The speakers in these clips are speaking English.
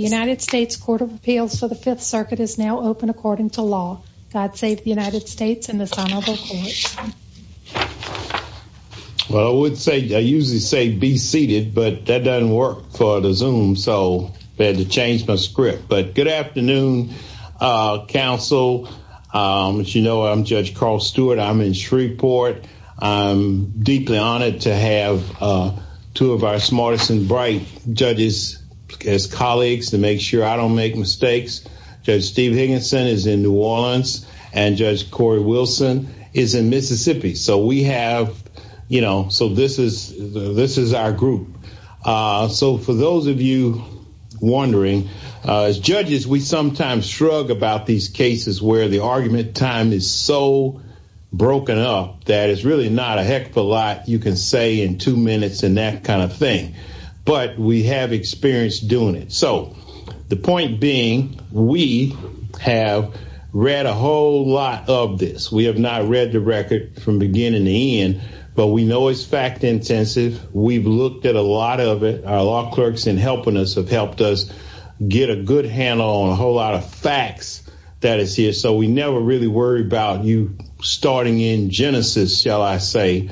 United States Court of Appeals for the Fifth Circuit is now open according to law. God save the United States and the Son of God. Well, I would say, I usually say be seated, but that doesn't work for the Zoom, so I had to change my script. But good afternoon, counsel. As you know, I'm Judge Carl Stewart. I'm in Shreveport. I'm deeply honored to have two of our smartest and bright judges as colleagues to make sure I don't make mistakes. Judge Steve Higginson is in New Orleans, and Judge Corey Wilson is in Mississippi. So we have, you know, so this is our group. So for those of you wondering, as judges, we sometimes shrug about these cases where the argument time is so broken up that it's really not a heck of a lot you can say in two minutes and that kind of thing. But we have experience doing it. So the point being, we have read a whole lot of this. We have not read the record from beginning to end, but we know it's fact-intensive. We've looked at a lot of it. Our law clerks in helping us have helped us get a good handle on a whole lot of facts that is here. So we never really worry about you starting in Genesis, shall I say,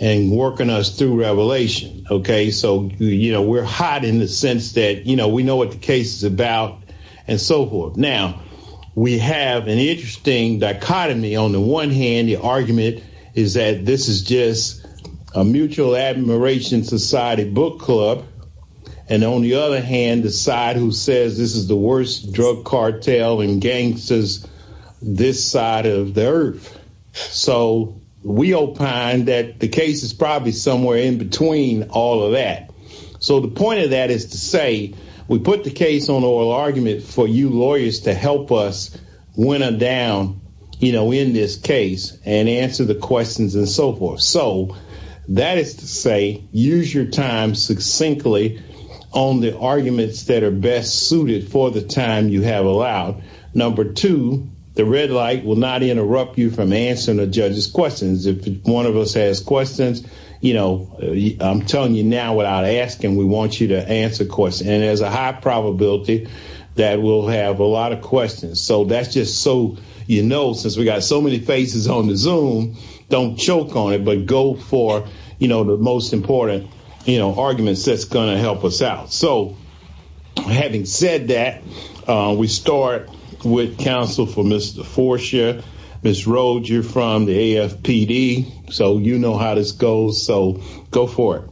and working us through Revelation, okay? So, you know, we're hot in the sense that, you know, we know what the case is about and so forth. Now, we have an interesting dichotomy. On the one hand, the argument is that this is just a mutual admiration society book club. And on the other hand, the side who says this is the worst drug cartel and gangsters this side of the earth. So we all find that the case is probably somewhere in between all of that. So the point of that is to say, we put the case on oral argument for you lawyers to help us win a down, you know, in this case and answer the questions and so forth. So that is to say, use your time succinctly on the arguments that are best suited for the time you have allowed. Number two, the red light will not interrupt you from answering the judge's questions. If one of us has questions, you know, I'm telling you now without asking, we want you to answer the question. And there's a high probability that we'll have a lot of questions. So that's just so you know, since we got so many faces on the Zoom, don't choke on it, but go for, you know, the most important, you know, arguments that's going to help us out. So having said that, we start with counsel for Mr. Forcia. Ms. Rhodes, you're from the AFPD, so you know how this goes. So go for it.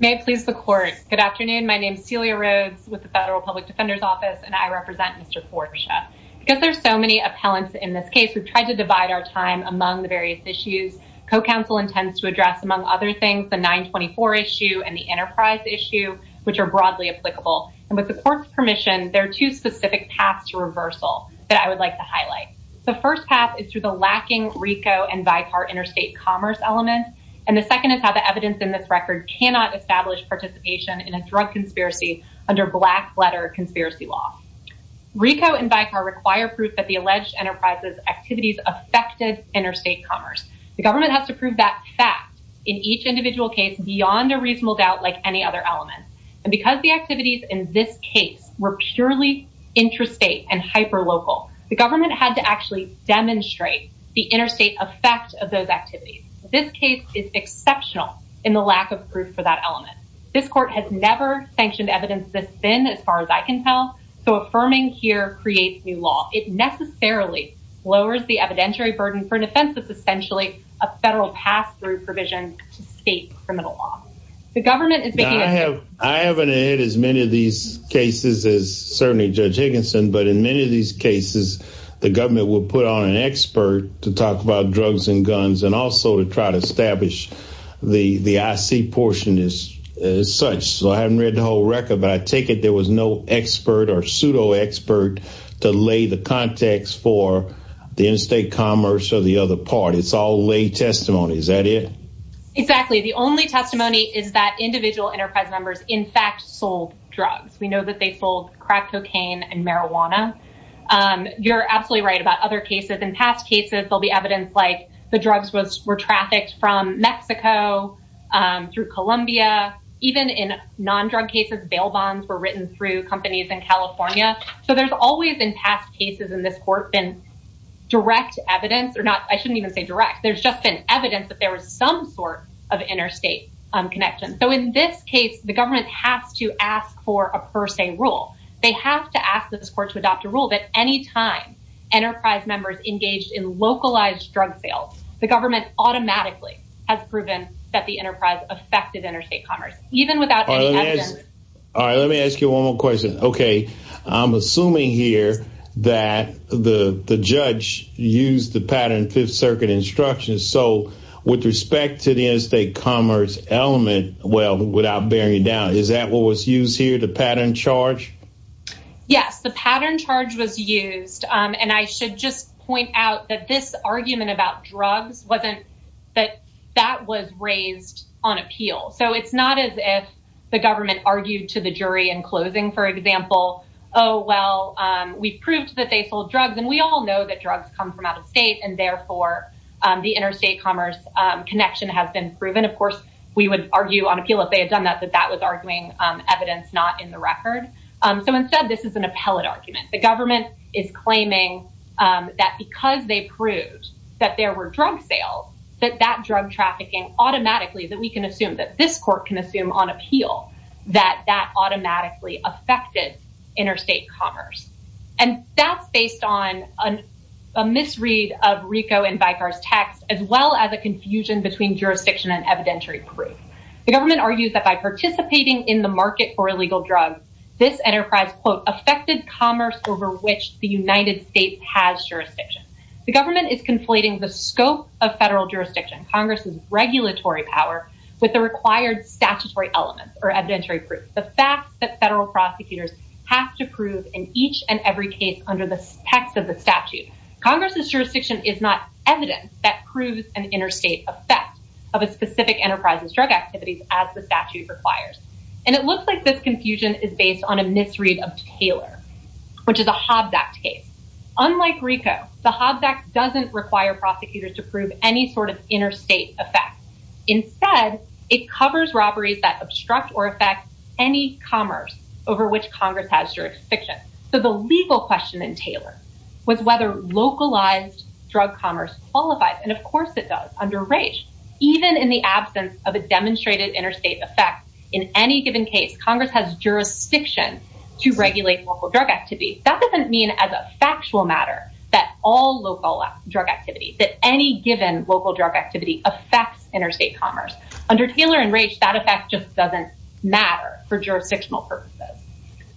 May I please support? Good afternoon. My name is Celia Rhodes with the Federal Public Defender's Office and I represent Mr. Forcia. Because there's so many appellants in this case, we've tried to divide our time among the various issues. Co-counsel intends to address among other the 924 issue and the enterprise issue, which are broadly applicable. And with the court's permission, there are two specific paths to reversal that I would like to highlight. The first path is through the lacking RICO and VITAR interstate commerce element. And the second is how the evidence in this record cannot establish participation in a drug conspiracy under black letter conspiracy law. RICO and VITAR require proof that the alleged enterprise's affected interstate commerce. The government has to prove that fact in each individual case beyond a reasonable doubt like any other element. And because the activities in this case were purely intrastate and hyperlocal, the government had to actually demonstrate the interstate effect of those activities. This case is exceptional in the lack of proof for that element. This court has never sanctioned evidence this thin, as far as I can tell. So affirming here creates a law. It necessarily lowers the evidentiary burden for an offense that's essentially a federal pass-through provision to state criminal law. The government is- I haven't heard as many of these cases as certainly Judge Higginson, but in many of these cases, the government will put on an expert to talk about drugs and guns and also to try to establish the IC portion as such. So I hadn't read the whole record, but I take it there was no expert or pseudo-expert to lay the context for the interstate commerce or the other part. It's all lay testimony. Is that it? Exactly. The only testimony is that individual enterprise members, in fact, sold drugs. We know that they sold crack cocaine and marijuana. You're absolutely right about other cases. In past cases, there'll be evidence like the drugs were trafficked from Mexico through Columbia. Even in non-drug cases, bail bonds were written through companies in California. So there's always in past cases in this court been direct evidence or not. I shouldn't even say direct. There's just been evidence that there was some sort of interstate connection. So in this case, the government has to ask for a per se rule. They have to ask that this court to adopt a rule that any time enterprise members engaged in localized drug sales, the government automatically has proven that the enterprise affected interstate commerce, even without any evidence. All right. Let me ask you one more question. Okay. I'm assuming here that the judge used the pattern Fifth Circuit instructions. So with respect to the interstate commerce element, well, without bearing down, is that what was used here, the pattern charge? Yes. The pattern charge was used. And I should just point out that this argument about drugs that that was raised on appeal. So it's not as if the government argued to the jury in closing, for example, oh, well, we've proved that they sold drugs. And we all know that drugs come from out of state. And therefore, the interstate commerce connection has been proven. Of course, we would argue on appeal if they had done that, but that was arguing evidence not in the record. So instead, this is an appellate argument. The government is claiming that because they proved that there were drug sales, that that drug trafficking automatically that we can assume that this court can assume on appeal that that automatically affected interstate commerce. And that's based on a misread of RICO and Vicar's text, as well as a confusion between jurisdiction and evidentiary proof. The government argues that by participating in the market for illegal drugs, this enterprise, quote, affected commerce over which the United States has jurisdiction. The government is conflating the scope of federal jurisdiction, Congress's regulatory power, with the required statutory elements or evidentiary proof. The fact that federal prosecutors have to prove in each and every case under the text of the statute, Congress's jurisdiction is not evidence that proves an interstate effect of a specific enterprise's drug activities as the statute requires. And it looks like this confusion is based on a misread of Taylor, which is a Hobbs Act case. Unlike RICO, the Hobbs Act doesn't require prosecutors to prove any sort of interstate effect. Instead, it covers robberies that obstruct or affect any commerce over which Congress has jurisdiction. So the legal question in Taylor was whether localized drug commerce qualifies. And of course it does under Raich. Even in the absence of a demonstrated interstate effect, in any given case, Congress has jurisdiction to regulate local drug activity. That doesn't mean as a factual matter that all local drug activity, that any given local drug activity affects interstate commerce. Under Taylor and Raich, that effect just doesn't matter for jurisdictional purposes.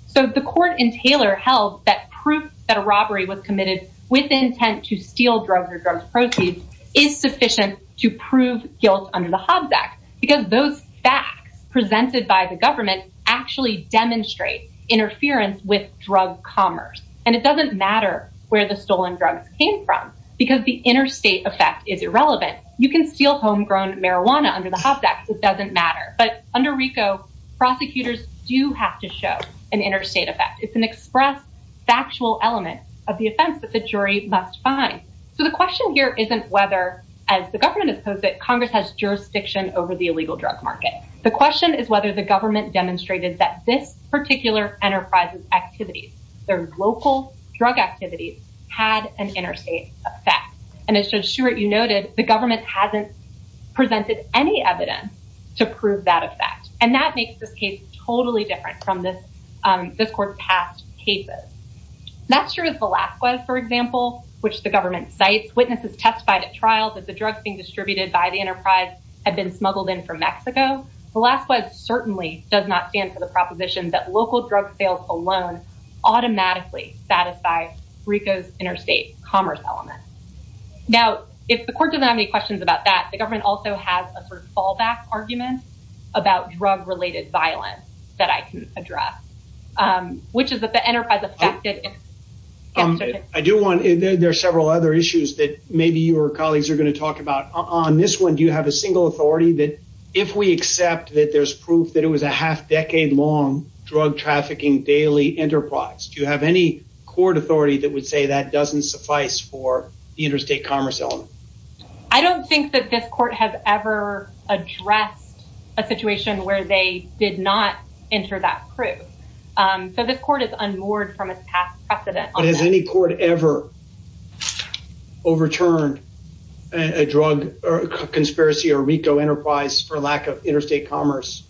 So the court in Taylor held that proof that a robbery was committed with intent to steal drugs or drug prostitutes is sufficient to prove guilt under the Hobbs Act, because those facts presented by the government actually demonstrate interference with drug commerce. And it doesn't matter where the stolen drugs came from, because the interstate effect is irrelevant. You can steal homegrown marijuana under the Hobbs Act. It doesn't matter. But under RICO, prosecutors do have to show an interstate effect. It's an express, factual element of the offense that the jury must find. So the question here isn't whether, as the government opposed it, Congress has jurisdiction over the illegal drug market. The question is whether the government demonstrated that this particular enterprise's activities, their local drug activities, had an interstate effect. And as Judge Stewart, you noted, the government hasn't presented any evidence to prove that effect. And that makes the case totally different from this court's past cases. Not sure if Velazquez, for example, which the government cites, witnesses testified at trial that the drugs being distributed by the enterprise had been smuggled in from Mexico. Velazquez certainly does not stand for the proposition that local drug sales alone automatically satisfy RICO's interstate commerce element. Now, if the court doesn't have any questions about that, the government also has a sort of fallback argument about drug-related violence that I can address, which is that the there's several other issues that maybe your colleagues are going to talk about. On this one, do you have a single authority that if we accept that there's proof that it was a half-decade-long drug-trafficking daily enterprise, do you have any court authority that would say that doesn't suffice for the interstate commerce element? I don't think that this court has ever addressed a situation where they did not enter that proof. So this court is unmoored from its past precedent. Has any court ever overturned a drug conspiracy or RICO enterprise for lack of interstate commerce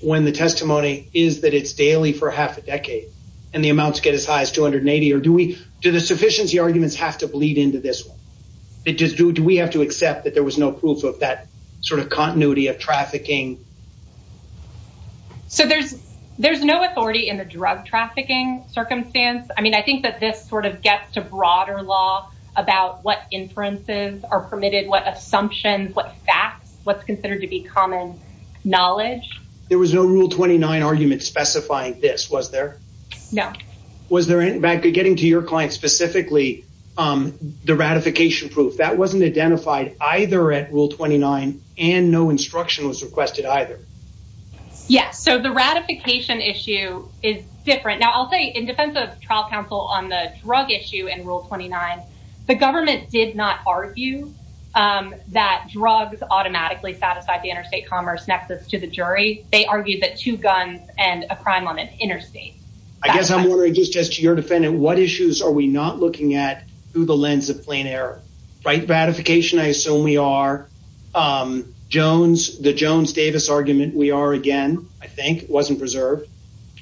when the testimony is that it's daily for half a decade and the amounts get as high as 280? Or do we do the sufficiency arguments have to bleed into this one? Do we have to accept that there was no proof of that sort of continuity of trafficking? So there's no authority in the case. I don't think that this sort of gets to broader law about what inferences are permitted, what assumptions, what facts, what's considered to be common knowledge. There was no Rule 29 argument specifying this, was there? No. Was there, getting to your client specifically, the ratification proof, that wasn't identified either at Rule 29 and no instruction was requested either? Yes. So the ratification issue is different. Now, I'll say in defense of trial counsel on the drug issue in Rule 29, the government did not argue that drugs automatically satisfy the interstate commerce nexus to the jury. They argued that two guns and a crime limit interstate. I guess I'm wondering, just to your defendant, what issues are we not looking at through the lens of plain error? Right, ratification, I assume we are. The Jones-Davis argument we are again, I think, wasn't preserved.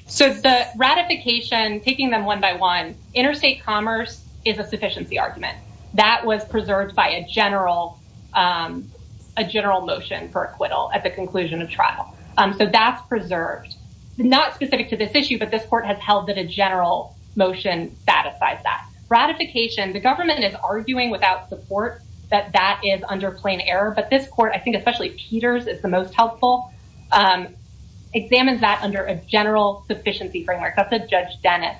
So the ratification, taking them one by one, interstate commerce is a sufficiency argument. That was preserved by a general motion for acquittal at the conclusion of trial. So that's preserved. Not specific to this issue, but this court has held that a general motion satisfies that. Ratification, the government is arguing without support that that is under plain error. But this court, I think especially Peters is the most helpful, examines that under a general sufficiency framework. That's a Judge Dennis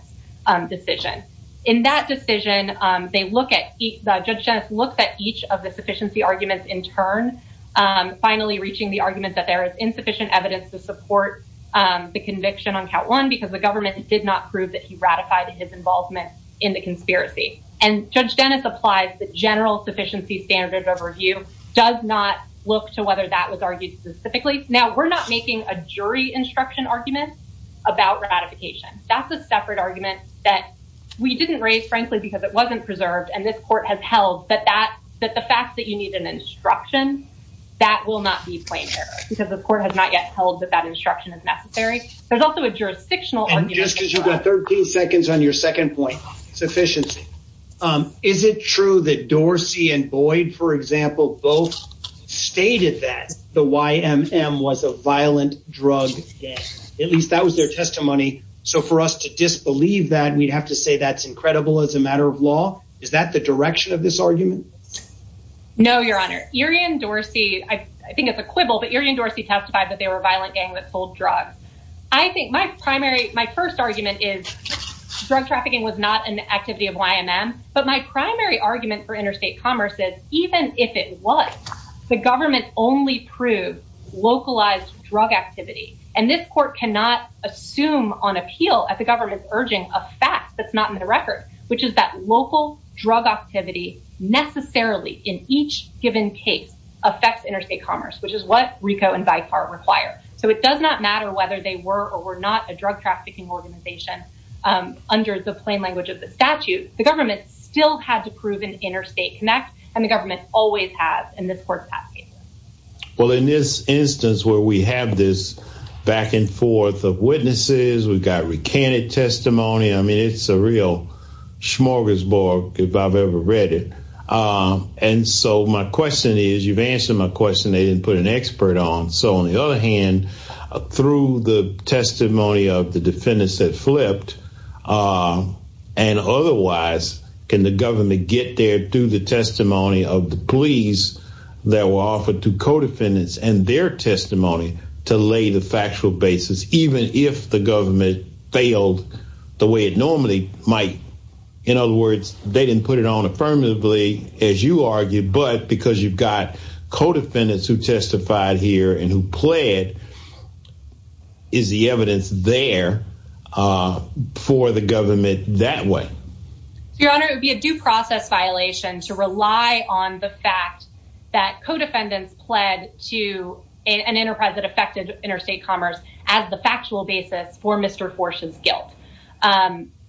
decision. In that decision, Judge Dennis looks at each of the sufficiency arguments in turn, finally reaching the argument that there is insufficient evidence to support the conviction on count one, because the government did not prove that he ratified his involvement in the conspiracy. And Judge Dennis applies the general sufficiency standards overview, does not look to whether that was argued specifically. Now, we're not making a jury instruction argument about ratification. That's a separate argument that we didn't raise, frankly, because it wasn't preserved. And this court has held that the fact that you need an instruction, that will not be plain error, because the court has not yet held that that instruction is necessary. There's also a jurisdictional argument. And just because you've got 13 seconds on your second point, sufficiency. Is it true that Dorsey and Boyd, for example, both stated that the YMM was a violent drug? At least that was their testimony. So for us to disbelieve that we have to say that's incredible as a matter of law. Is that the direction of this argument? No, Your Honor, you're in Dorsey, I think it's a quibble that you're in Dorsey testified that they were violent gang that sold drugs. I think my primary my first argument is drug trafficking was not an activity of YMM. But my primary argument for interstate commerce is, even if it was, the government only proved localized drug activity. And this court cannot assume on appeal at the government's urging a fact that's not in the record, which is that local drug activity necessarily in each given case affects interstate commerce, which is what RICO and by far require. So it does not matter whether they were or were not a drug trafficking organization. Under the plain language of the statute, the government still had to prove an interstate connect. And the government always has in this court. Well, in this instance where we have this back and forth of witnesses, we've got recanted testimony. I mean, it's a real smorgasbord if I've ever read it. And so my question is, you've answered my question. They didn't put an expert on. So on the other hand, through the testimony of the defendants that flipped and otherwise, can the government get there through the testimony of the police that were offered to co-defendants and their testimony to lay the factual basis, even if the government failed the way it normally might? In other words, they didn't put it on affirmatively, as you argued, but because you've got co-defendants who testified here and who pled to an enterprise that affected interstate commerce, is the evidence there for the government that way? Your Honor, it would be a due process violation to rely on the fact that co-defendants pled to an enterprise that affected interstate commerce as the factual basis for Mr. Forsh's guilt.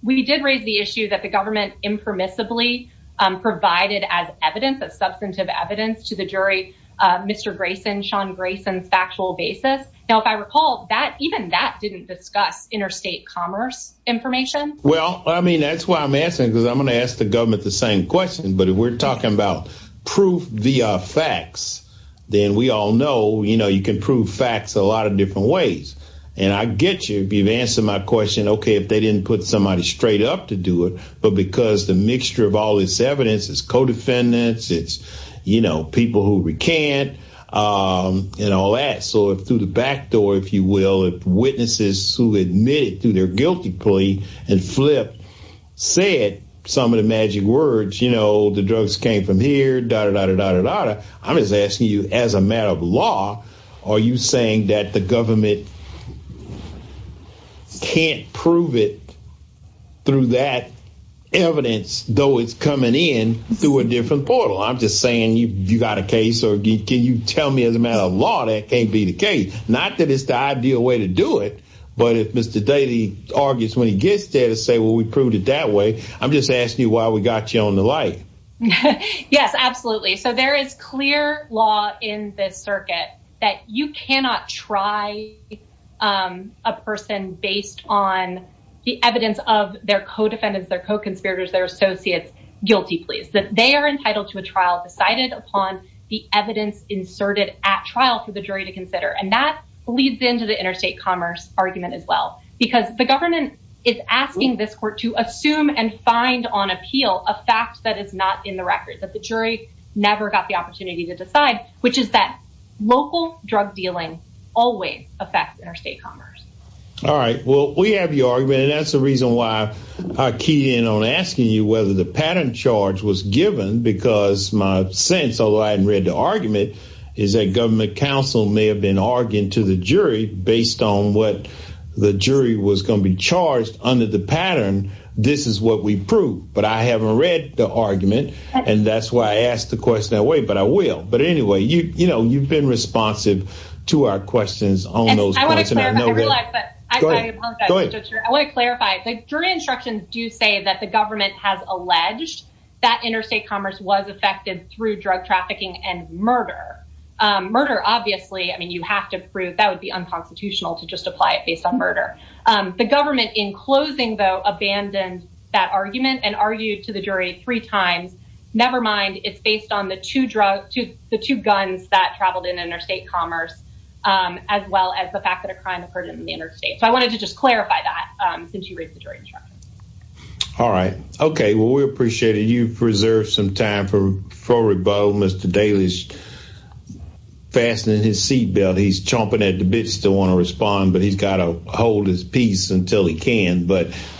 We did raise the issue that the government impermissibly provided as evidence, substantive evidence to the jury, Mr. Grayson, Sean Grayson's factual basis. Now, if I recall, even that didn't discuss interstate commerce information. Well, I mean, that's why I'm asking, because I'm going to ask the government the same question. But if we're talking about proof via facts, then we all know you can prove facts a lot of different ways. And I get you if you've answered my question, okay, if they didn't put somebody you know, people who recant and all that. So if through the back door, if you will, if witnesses who admitted to their guilty plea and flipped said some of the magic words, you know, the drugs came from here, dah, dah, dah, dah, dah, dah. I'm just asking you as a matter of law, are you saying that the government can't prove it through that evidence, though it's coming in through a different portal? I'm just saying you got a case or can you tell me as a matter of law that can't be the case? Not that it's the ideal way to do it. But if Mr. Daly argues when he gets there to say, well, we proved it that way. I'm just asking you why we got you on the light. Yes, absolutely. So there is clear law in the circuit that you cannot try a person based on the evidence of their co-defendants, their co-conspirators, their associates, guilty pleas, that they are entitled to a trial decided upon the evidence inserted at trial for the jury to consider. And that leads into the interstate commerce argument as well, because the government is asking this court to assume and find on appeal a fact that is not in the record, that the jury never got the opportunity to decide, which is that local drug dealing always affects interstate commerce. All right, well, we have your argument. That's the reason why I keyed in on asking you whether the pattern charge was given, because my sense, although I hadn't read the argument, is that government counsel may have been arguing to the jury based on what the jury was going to be charged under the pattern, this is what we proved. But I haven't read the argument, and that's why I asked the question that way, but I will. But anyway, you've been responsive to our questions on those questions. I want to clarify, the jury instructions do say that the government has alleged that interstate commerce was affected through drug trafficking and murder. Murder, obviously, I mean, you have to prove that would be unconstitutional to just apply it based on murder. The government in closing, though, abandoned that argument and argued to the jury three times. Never mind, it's based on the two guns that traveled in interstate commerce, as well as the fact that a crime occurred in the interstate. So I wanted to just clarify that since you raised the jury instructions. All right. Okay, well, we appreciate it. You've preserved some time for rebuttal. Mr. Daly's fastening his seat belt. He's chomping at the bits. He doesn't want to respond, but he's got to hold his peace until he can.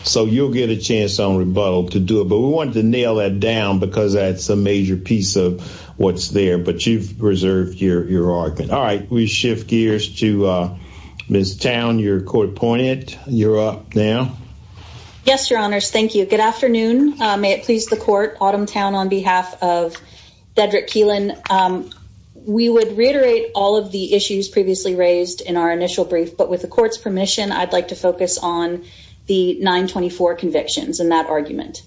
So you'll get a chance on rebuttal to do it. But we wanted to nail that down because that's a major piece of what's there. But you've preserved your argument. All right. We shift gears to Ms. Towne, your court appointee. You're up now. Yes, your honors. Thank you. Good afternoon. May it please the court. Autumn Towne on behalf of Cedric Keelan. We would reiterate all of the issues previously raised in our initial brief, but with the court's permission, I'd like to focus on the 924 convictions in that argument.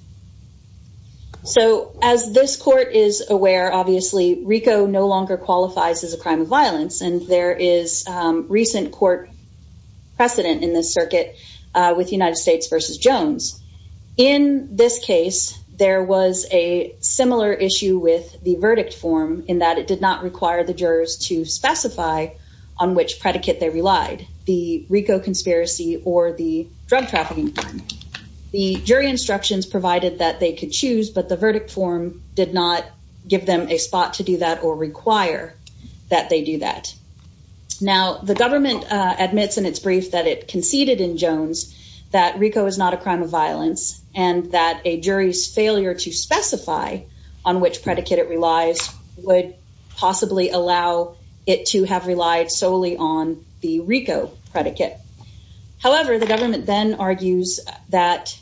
So as this court is aware, obviously, RICO no longer qualifies as a crime of violence. And there is recent court precedent in the circuit with United States versus Jones. In this case, there was a similar issue with the verdict form in that it did not require the jurors to specify on which predicate they relied, the RICO conspiracy or the drug trafficking. The jury instructions provided that they could choose, but the verdict form did not give them a spot to do that or require that they do that. Now, the government admits in its brief that it conceded in Jones that RICO is not a crime of violence and that a jury's failure to specify on which predicate it relies would possibly allow it to have relied solely on the RICO predicate. However, the government then argues that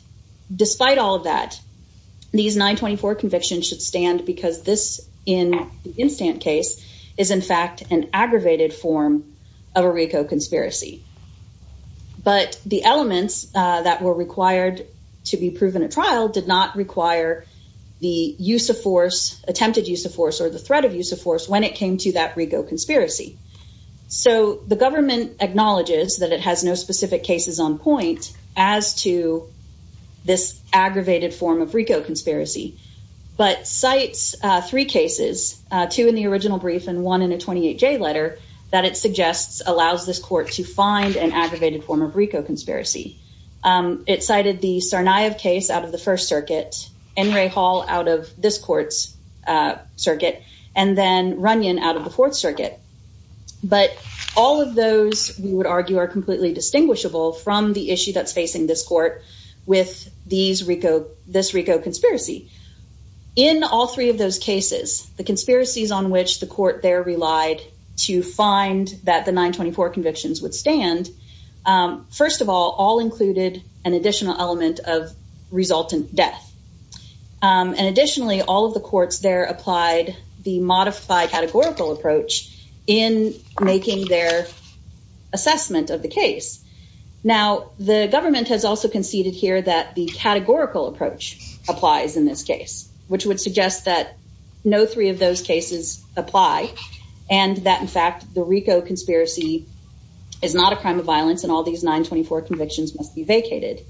despite all of that, these 924 convictions should stand because this, in the instant case, is in fact an aggravated form of a RICO conspiracy. But the elements that were required to be proven at trial did not require the use of force, attempted use of force or the threat of RICO conspiracy. So the government acknowledges that it has no specific cases on point as to this aggravated form of RICO conspiracy, but cites three cases, two in the original brief and one in a 28-J letter that it suggests allows this court to find an aggravated form of RICO conspiracy. It cited the Tsarnaev case out of the First Circuit, Henry Hall out of this court's circuit, and then Runyon out of the Fourth Circuit. But all of those, we would argue, are completely distinguishable from the issue that's facing this court with this RICO conspiracy. In all three of those cases, the conspiracies on which the court there relied to find that the 924 convictions would stand, first of all, all included an additional element of resultant death. And additionally, all of the courts there applied the modified categorical approach in making their assessment of the case. Now, the government has also conceded here that the categorical approach applies in this case, which would suggest that no three of those cases apply and that, in fact, the RICO conspiracy is not a crime of violence and all these 924 convictions must be vacated.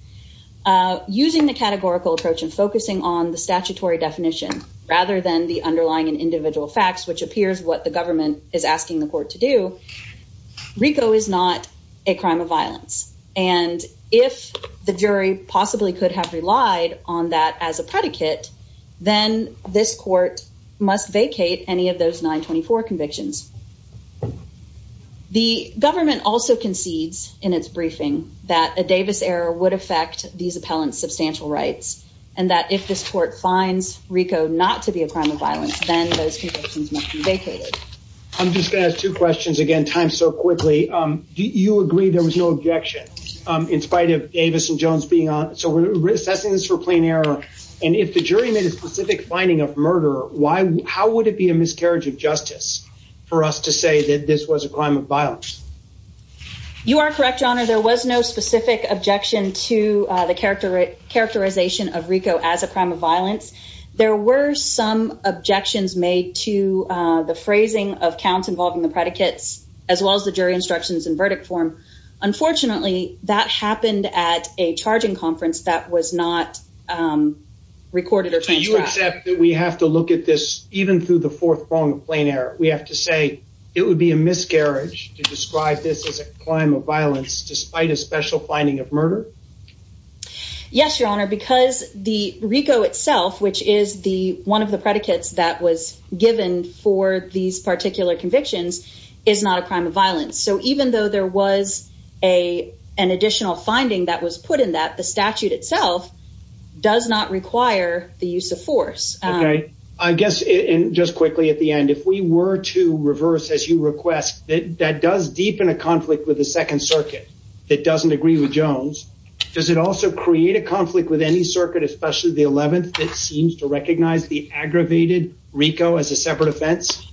Using the categorical approach and focusing on the statutory definition rather than the underlying and individual facts, which appears what the government is asking the court to do, RICO is not a crime of violence. And if the jury possibly could have relied on that as a predicate, then this court must vacate any of those 924 convictions. The government also concedes in its briefing that a Davis error would affect these appellant substantial rights and that if this court finds RICO not to be a crime of violence, then those convictions must be vacated. I'm just going to ask two questions again, time so quickly. Do you agree there was no objection in spite of Davis and Jones being on? So we're assessing this for plain error. And if the jury made a specific finding of murder, why? How would it be a miscarriage of justice for us to say that this was a crime of violence? You are correct on it. There was no specific objection to the character, characterization of RICO as a crime of violence. There were some objections made to the phrasing of counts involved in the predicate, as well as the jury instructions and verdict form. Unfortunately, that happened at a charging conference that was not recorded. We have to look at this even through the fourth form of plain error. We have to say it would be a miscarriage to describe this as a crime of violence, despite a special finding of murder. Yes, your honor, because the RICO itself, which is the one of the predicates that was given for these particular convictions is not a crime of violence. So even though there was a, an additional finding that was put in that the statute itself does not require the use of force. Okay. I guess in just quickly at the end, if we were to reverse, as you request that, that does deepen a conflict with the second circuit, it doesn't agree with Jones. Does it also create a conflict with any circuit, especially the 11th? It seems to recognize the aggravated RICO as a separate offense. Do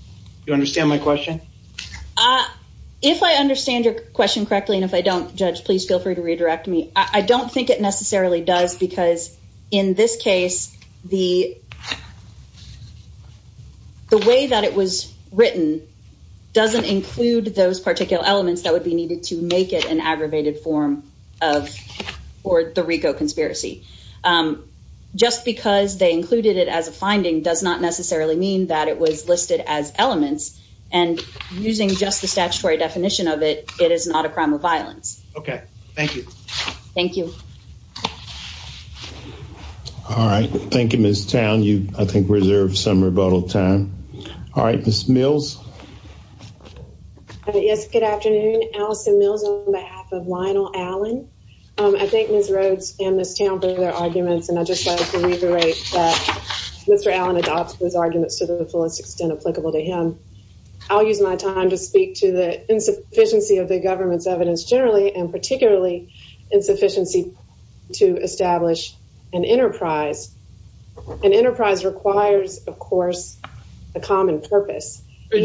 you understand my question? If I understand your question correctly, and if I don't judge, please feel free to redirect me. I don't think it necessarily does because in this case, the, the way that it was written doesn't include those particular elements that would be needed to make it an aggravated form of, or the RICO conspiracy. Just because they included it as a finding does not necessarily mean that it was listed as elements and using just the statutory definition of it, it is not a crime of violence. Okay. Thank you. Thank you. All right. Thank you, Ms. Towne. You, I think, reserved some rebuttal time. All right. Ms. Mills. Yes. Good afternoon. Alison Mills on behalf of Lionel Allen. I think Ms. Rhodes and Ms. Towne brought their arguments and I just wanted to reiterate that Mr. Allen adopts those arguments to the fullest extent applicable to him. I'll use my time to speak to the insufficiency of the government's evidence generally, and particularly insufficiency to establish an enterprise. An enterprise requires, of course, a common purpose. Are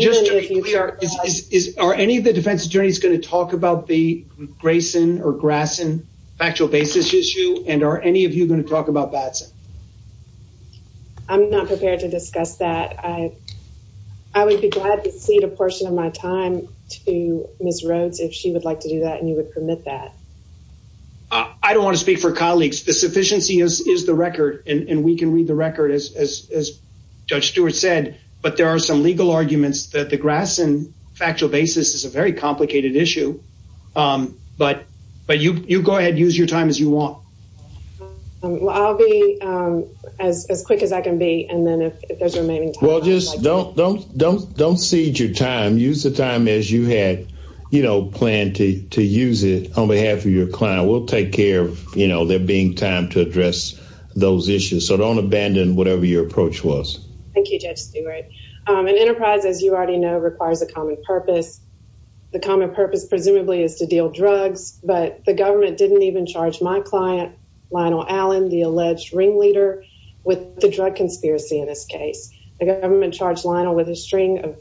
any of the defense attorneys going to talk about the Grayson or Gratson factual basis issue? And are any of you going to talk about that? I'm not prepared to discuss that. I would be glad to cede a portion of my time to Ms. Rhodes if she would like to do that and you would permit that. I don't want to speak for colleagues. The sufficiency is the record and we can read the record as Judge Stewart said, but there are some legal arguments that the Gratson factual basis is a very complicated issue. But you go ahead and use your time as you want. Well, I'll be as quick as I can be and then if there's remaining time. Well, just don't cede your time. Use the time as you had planned to use it on behalf of your client. We'll take care of there being time to address those issues. So don't abandon whatever your approach was. Thank you, Judge Stewart. An enterprise, as you already know, requires a common purpose. The common purpose presumably is to deal drugs, but the government didn't even charge my client, Lionel Allen, the alleged ring leader, with the drug conspiracy in this case. The government charged Lionel with a string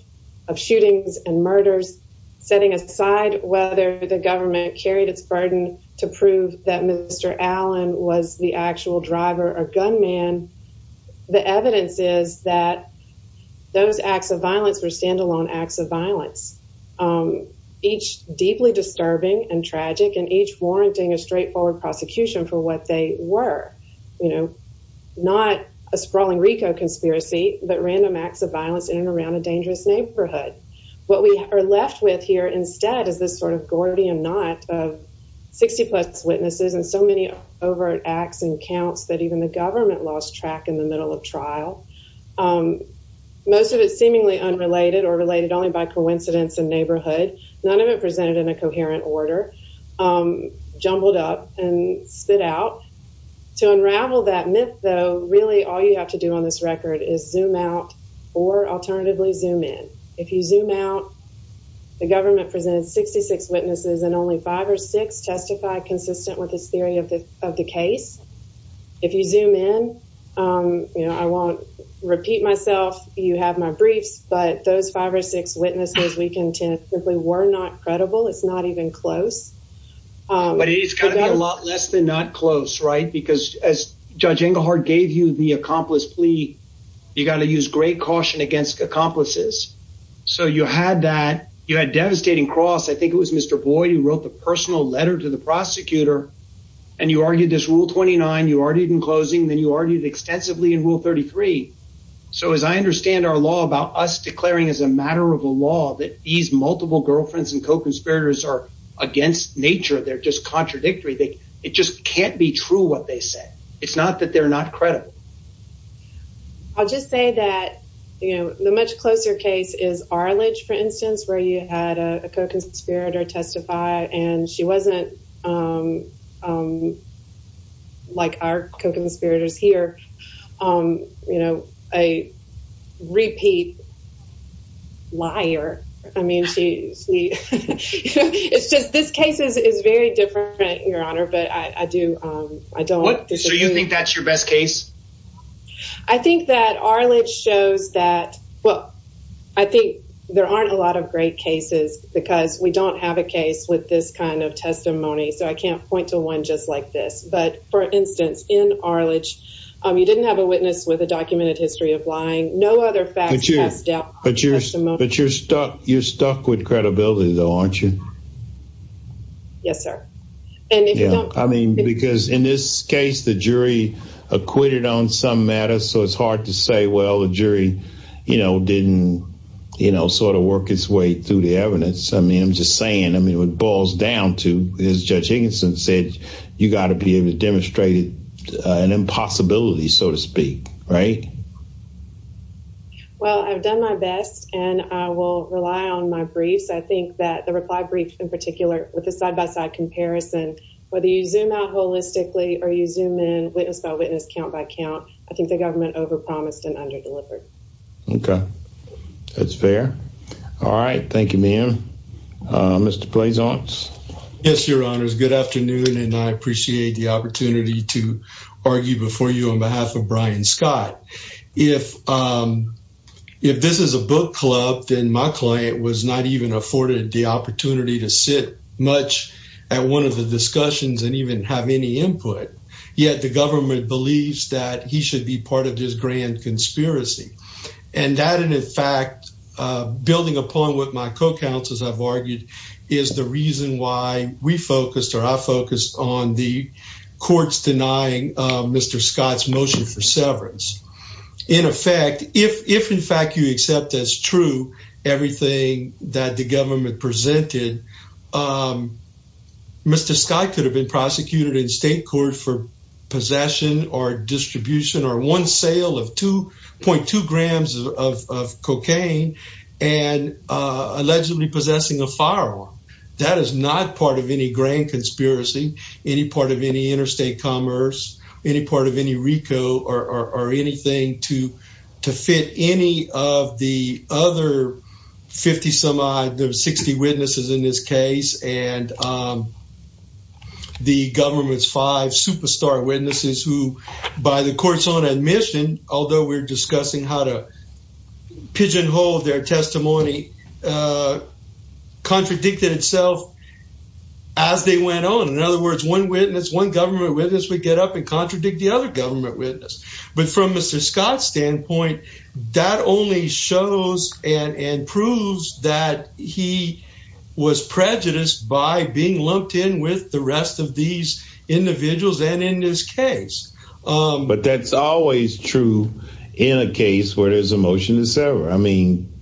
of shootings and murders, setting aside whether the government carried its burden to prove that Mr. Allen was the actual driver or gunman. The evidence is that those acts of violence are standalone acts of violence, each deeply disturbing and tragic and each warranting a straightforward prosecution for what they were. You know, not a sprawling RICO conspiracy, but random acts of violence in and around a dangerous neighborhood. What we are left with instead is this sort of Gordian knot of 60 plus witnesses and so many overt acts and counts that even the government lost track in the middle of trial. Most of it seemingly unrelated or related only by coincidence and neighborhood, none of it presented in a coherent order, jumbled up and stood out. To unravel that myth, though, really all you have to do on this record is zoom out or alternatively zoom in. If you zoom out, the government presented 66 witnesses and only five or six testified consistent with the theory of the case. If you zoom in, you know, I won't repeat myself, you have my brief, but those five or six witnesses we can chance simply were not credible, it's not even close. But it's kind of a lot less than that close, right? Because as Judge against accomplices. So you had that you had devastating cross, I think it was Mr. Boyd, he wrote the personal letter to the prosecutor. And you argued this rule 29, you already been closing, then you argued extensively in Rule 33. So as I understand our law about us declaring as a matter of law that these multiple girlfriends and co conspirators are against nature, they're just contradictory, they, it just can't be true what they say. It's not that they're not credible. I'll just say that, you know, the much closer case is Arledge, for instance, where you had a co conspirator testify, and she wasn't like our conspirators here, you know, a repeat liar. I mean, this case is very different, Your Honor, but I do, I don't think that's your best case. I think that Arledge shows that, well, I think there aren't a lot of great cases, because we don't have a case with this kind of testimony. So I can't point to one just like this. But for instance, in Arledge, you didn't have a witness with a documented history of lying, no other fact. But you're stuck, you're stuck with credibility, though, aren't you? Yes, sir. And I mean, because in this case, the jury acquitted on some matters. So it's hard to say, well, the jury, you know, didn't, you know, sort of work its way through the evidence. I mean, I'm just saying, I mean, it boils down to, as Judge Higginson said, you got to be able to demonstrate an impossibility, so to speak, right? Well, I've done my best, and I will rely on my I think that the reply brief, in particular, with the side-by-side comparison, whether you zoom out holistically or you zoom in, witness by witness, count by count, I think the government over-promised and under-delivered. Okay. That's fair. All right. Thank you, Mia. Mr. Blazon? Yes, Your Honors. Good afternoon, and I appreciate the opportunity to argue before you on behalf of the court. I don't think I've afforded the opportunity to sit much at one of the discussions and even have any input, yet the government believes that he should be part of this grand conspiracy. And that is, in fact, building upon what my co-counsels have argued, is the reason why we focused, or I focused, on the courts denying Mr. Scott's motion for severance. In effect, if, in fact, you accept as true everything that the government presented, Mr. Scott could have been prosecuted in state court for possession or distribution or one sale of 2.2 grams of cocaine and allegedly possessing a firearm. That is not part of any grand conspiracy, any part of any interstate commerce, any part of any RICO, or anything to fit any of the other 50-some-odd, those 60 witnesses in this case, and the government's five superstar witnesses who, by the court's own admission, although we're discussing how to pigeonhole their testimony, uh, contradicted itself as they went on. In other words, one witness, one government witness, would get up and contradict the other government witness. But from Mr. Scott's standpoint, that only shows and proves that he was prejudiced by being lumped in with the rest of these individuals and in this case. But that's always true in a case where there's a motion to sever. I mean,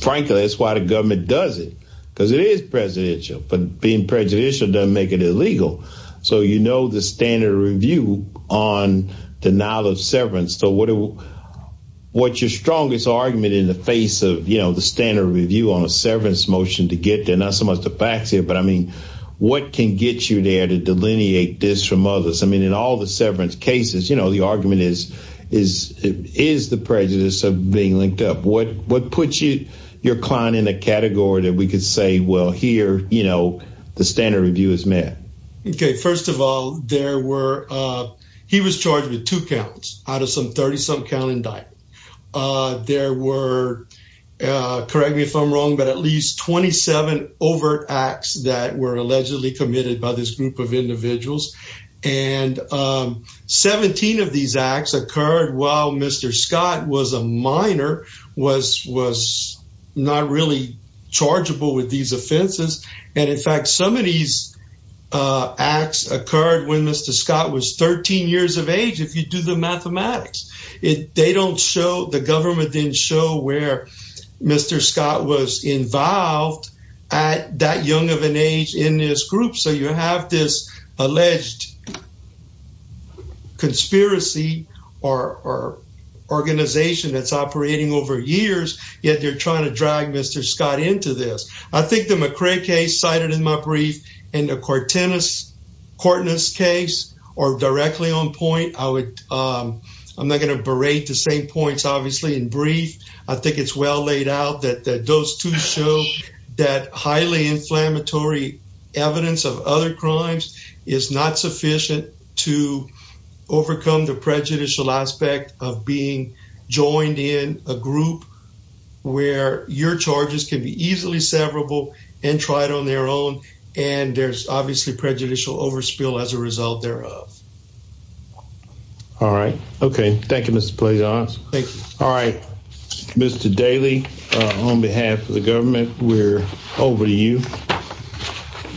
frankly, that's why the government does it, because it is presidential. But being presidential doesn't make it illegal. So, you know the standard review on denial of severance. So, what's your strongest argument in the face of, you know, the standard review on a severance motion to get there? Not so much the facts here, but, I mean, what can get you there to delineate this from others? I mean, in all the severance cases, you know, the argument is, is the prejudice of being linked up. What, what puts you, your client, in a category that we could say, well, here, you know, the standard review is met? Okay, first of all, there were, uh, he was charged with two counts out of some 30-some count indicted. Uh, there were, uh, correct me if I'm wrong, but at least 27 overt acts that were allegedly committed by this group of individuals. And, um, 17 of these acts occurred while Mr. Scott was a minor, was, was not really chargeable with these offenses. And, in fact, some of these, uh, acts occurred when Mr. Scott was 13 years of age, if you do the mathematics. It, they don't show, the government didn't show where Mr. Scott was involved at that young of an age in this group. So, you have this alleged conspiracy or, or organization that's operating over years, yet they're trying to drag Mr. Scott into this. I think the McCray case cited in my brief and the Cortinas, Cortinas case are directly on point. I would, um, I'm not going to berate the same points, obviously, in brief. I think it's well laid out that, that those two that highly inflammatory evidence of other crimes is not sufficient to overcome the prejudicial aspect of being joined in a group where your charges can be easily severable and tried on their own. And there's obviously prejudicial overspill as a result thereof. All right. Okay. Thank you, Mr. Playhouse. All right, Mr. Daly, on behalf of the government, we're over to you.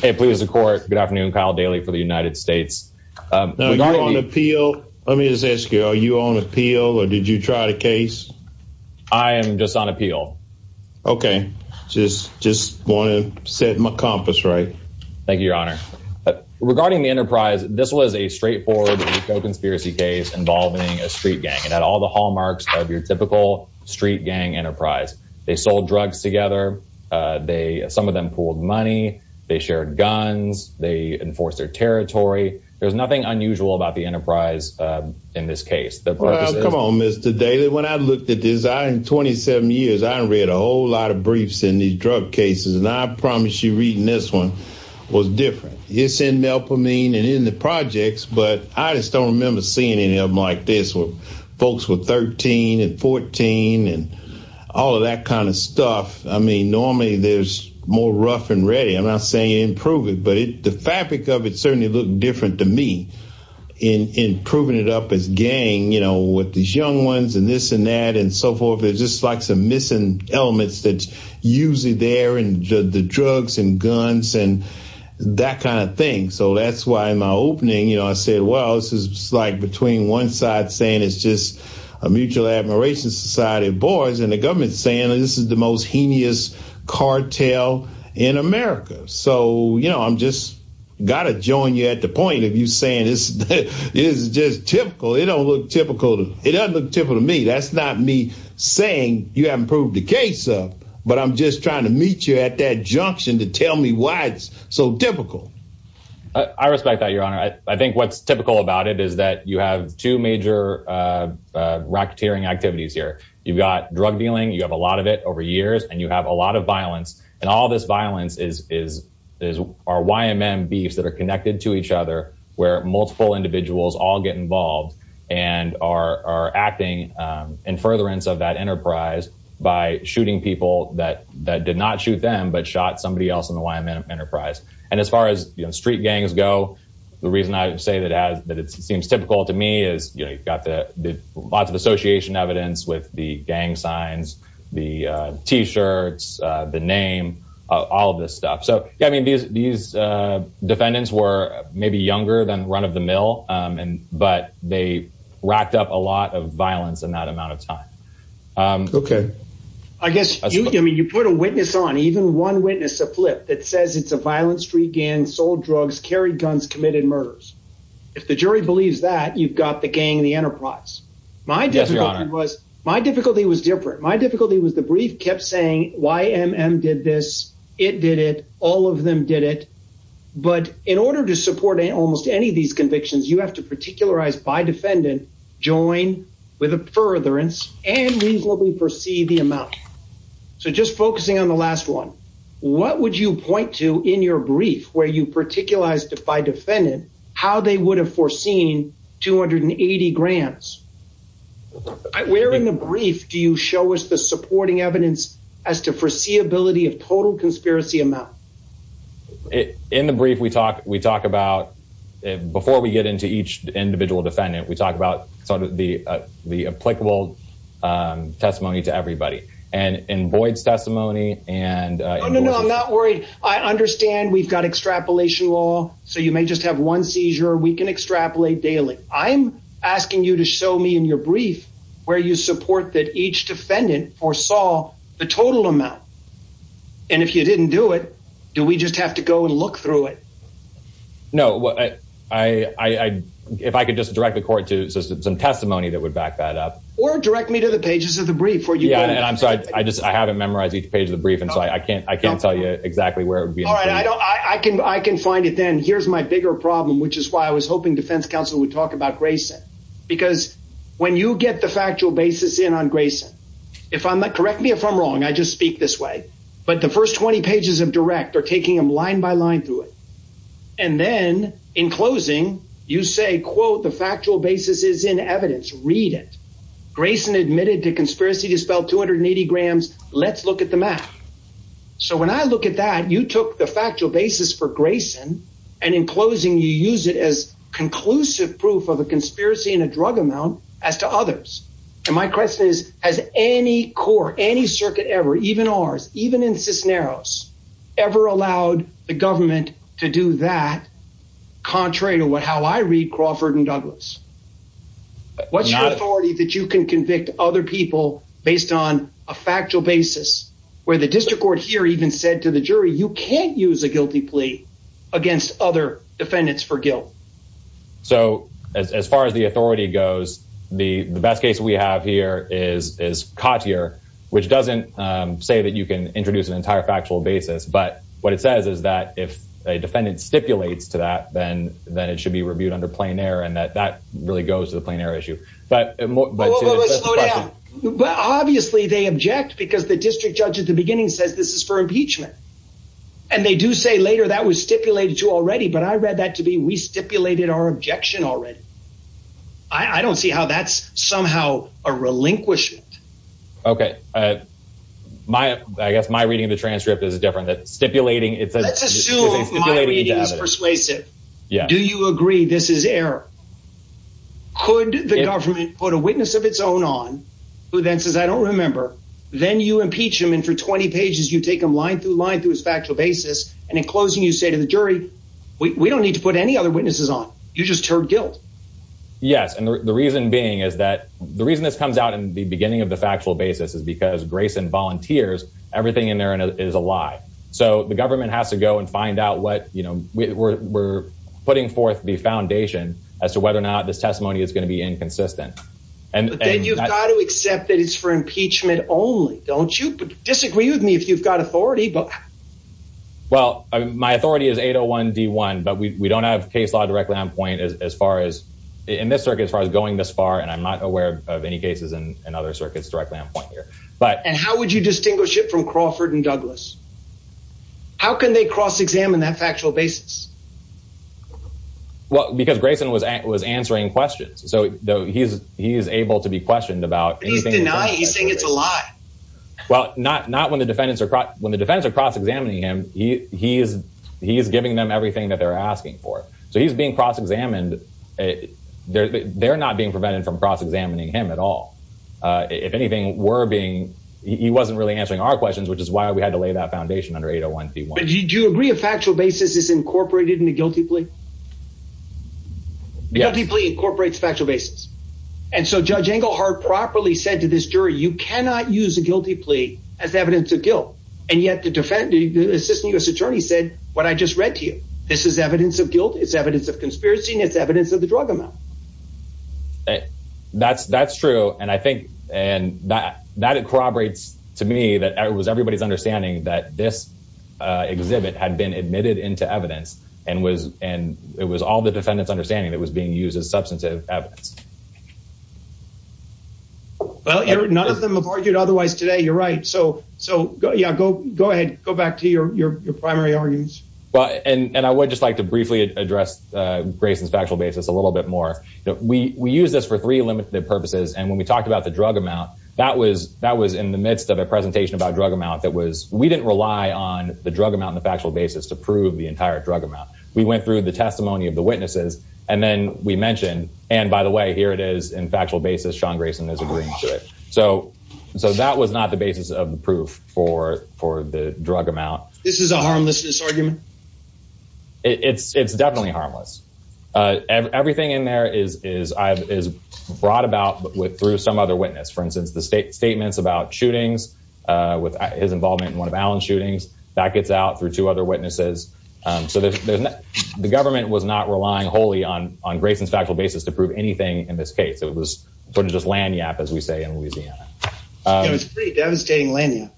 Hey, please, the court. Good afternoon, Kyle Daly for the United States. Let me just ask you, are you on appeal or did you try the case? I am just on appeal. Okay. Just, just want to set my compass right. Thank you, your honor. Regarding the enterprise, this was a straightforward conspiracy case involving a street gang and had all the hallmarks of your typical street gang enterprise. They sold drugs together. Uh, they, some of them pulled money, they shared guns, they enforced their territory. There's nothing unusual about the enterprise, uh, in this case. Come on, Mr. Daly. When I looked at this, I, in 27 years, I read a whole lot of briefs in these drug cases. And I promise you reading this one was different. It's in melpomene and in the folks with 13 and 14 and all of that kind of stuff. I mean, normally there's more rough and ready. I'm not saying improve it, but the fabric of it certainly looked different to me in improving it up as gang, you know, with these young ones and this and that and so forth. It's just like some missing elements that's usually there and the drugs and guns and that kind of thing. So that's why my opening, you know, I said, well, this is like between one side saying, it's just a mutual admiration society of boys and the government saying that this is the most heinous cartel in America. So, you know, I'm just got to join you at the point of you saying this is just typical. It don't look typical to me. That's not me saying you haven't proved the case up, but I'm just trying to meet you at that junction to tell me why it's so difficult. I respect that your honor. I think what's typical about it is that you have two major racketeering activities here. You've got drug dealing. You have a lot of it over years and you have a lot of violence and all this violence is our YMM beefs that are connected to each other where multiple individuals all get involved and are acting in furtherance of that enterprise by shooting people that did not shoot them, but shot somebody else in the YMM enterprise. And as far as street gangs go, the reason I say that it seems typical to me is, you know, you've got the lots of association evidence with the gang signs, the t-shirts, the name, all of this stuff. So, I mean, these defendants were maybe younger than run of the mill and, but they racked up a lot of violence in that amount of time. Okay. I guess you put a witness on even one witness, a flip that says it's a violent street gang, sold drugs, carried guns, committed murders. If the jury believes that you've got the gang, the enterprise. My difficulty was different. My difficulty was the brief kept saying YMM did this. It did it. All of them did it. But in order to support almost any of these convictions, you have to particularize by defendant, join with a furtherance and reasonably perceive the amount. So just focusing on the last one, what would you point to in your brief where you particularized by defendant, how they would have foreseen 280 grants? Where in the brief, do you show us the supporting evidence as to foreseeability of total conspiracy amount? It in the brief, we talk, we talk about it before we get into each individual defendant, we talk about the applicable testimony to everybody and in Boyd's testimony. And I'm not worried. I understand we've got extrapolation law. So you may just have one seizure. We can extrapolate daily. I'm asking you to show me in your brief where you support that each defendant or saw the total amount. And if you didn't do it, do we just have to go and look through it? No, I, I, I, if I could just direct the court to some testimony that would back that up. Or direct me to the pages of the brief for you. Yeah. And I'm sorry, I just, I haven't memorized each page of the brief. And so I can't, I can't tell you exactly where I can, I can find it then here's my bigger problem, which is why I was hoping defense counsel would talk about Grayson because when you get the factual basis in on Grayson, if I'm not correct me, if I'm wrong, I just speak this way, but the first 20 pages of direct are taking them line by line through it. And then in closing, you say, quote, the factual basis is in evidence. Read it. Grayson admitted to conspiracy to spell 280 grams. Let's look at the math. So when I look at that, you took the drug amount as to others. And my question is as any core, any circuit ever, even ours, even in Cisneros ever allowed the government to do that. Contrary to what, how I read Crawford and Douglas, what's your authority that you can convict other people based on a factual basis where the district court here even said to the jury, you can't use a guilty plea against other defendants for guilt. So as far as the authority goes, the best case we have here is, is caught here, which doesn't say that you can introduce an entire factual basis, but what it says is that if a defendant stipulates to that, then, then it should be reviewed under plain air. And that, that really goes to the plain air issue, but obviously they object because the district later that was stipulated to already, but I read that to be, we stipulated our objection already. I don't see how that's somehow a relinquished. Okay. My, I guess my reading of the transcript is a different that stipulating it persuasive. Yeah. Do you agree? This is error. Could the government put a witness of its own on who then says, I don't remember. Then you say to the jury, we don't need to put any other witnesses on. You just heard guilt. Yes. And the reason being is that the reason this comes out in the beginning of the factual basis is because Grayson volunteers, everything in there is a lie. So the government has to go and find out what, you know, we're, we're putting forth the foundation as to whether or not this testimony is going to be inconsistent. And then you've got to accept that it's for impeachment only. Don't disagree with me if you've got authority, but well, my authority is 801 D one, but we don't have case law directly on point as far as in this circuit, as far as going this far. And I'm not aware of any cases and other circuits directly on point here, but, and how would you distinguish it from Crawford and Douglas? How can they cross examine that factual basis? Well, because Grayson was at, was answering questions. So he's, he is able to be questioned about anything. He's saying it's a lie. Well, not, not when the defendants are, when the defense are cross examining him, he, he is, he is giving them everything that they're asking for. So he's being cross examined. They're not being prevented from cross examining him at all. If anything, we're being, he wasn't really answering our questions, which is why we had to lay that foundation under 801 C one. Do you agree a factual basis is incorporated in the guilty plea? The guilty plea incorporates factual basis. And so judge Engelhardt properly said to this jury, you cannot use a guilty plea as evidence of guilt. And yet the defendant, the assistant U.S. attorney said, what I just read to you, this is evidence of guilt. It's evidence of conspiracy and it's evidence of the drug amount. That's, that's true. And I think, and that, that corroborates to me that it was everybody's understanding that this exhibit had been admitted into evidence and was, and it was all the defendant's understanding that was being used as substantive evidence. Well, none of them have argued otherwise today. You're right. So, so yeah, go, go ahead, go back to your, your, your primary arguments. Well, and I would just like to briefly address Grayson's factual basis a little bit more. We, we use this for three limited purposes. And when we talked about the drug amount, that was, that was in the midst of a presentation about drug amount that was, we didn't rely on the drug amount and the factual basis to prove the entire drug amount. We went through the testimony of witnesses and then we mentioned, and by the way, here it is in factual basis, Sean Grayson is agreeing to it. So, so that was not the basis of the proof for, for the drug amount. This is a harmless disargument. It's definitely harmless. And everything in there is, is, is brought about with, through some other witness, for instance, the state statements about shootings with his involvement in one of Alan's shootings that gets out through two other witnesses. So the, the, the government was not relying wholly on, on Grayson's factual basis to prove anything in this case. It was sort of just landy app, as we say in Louisiana. It was pretty devastating landing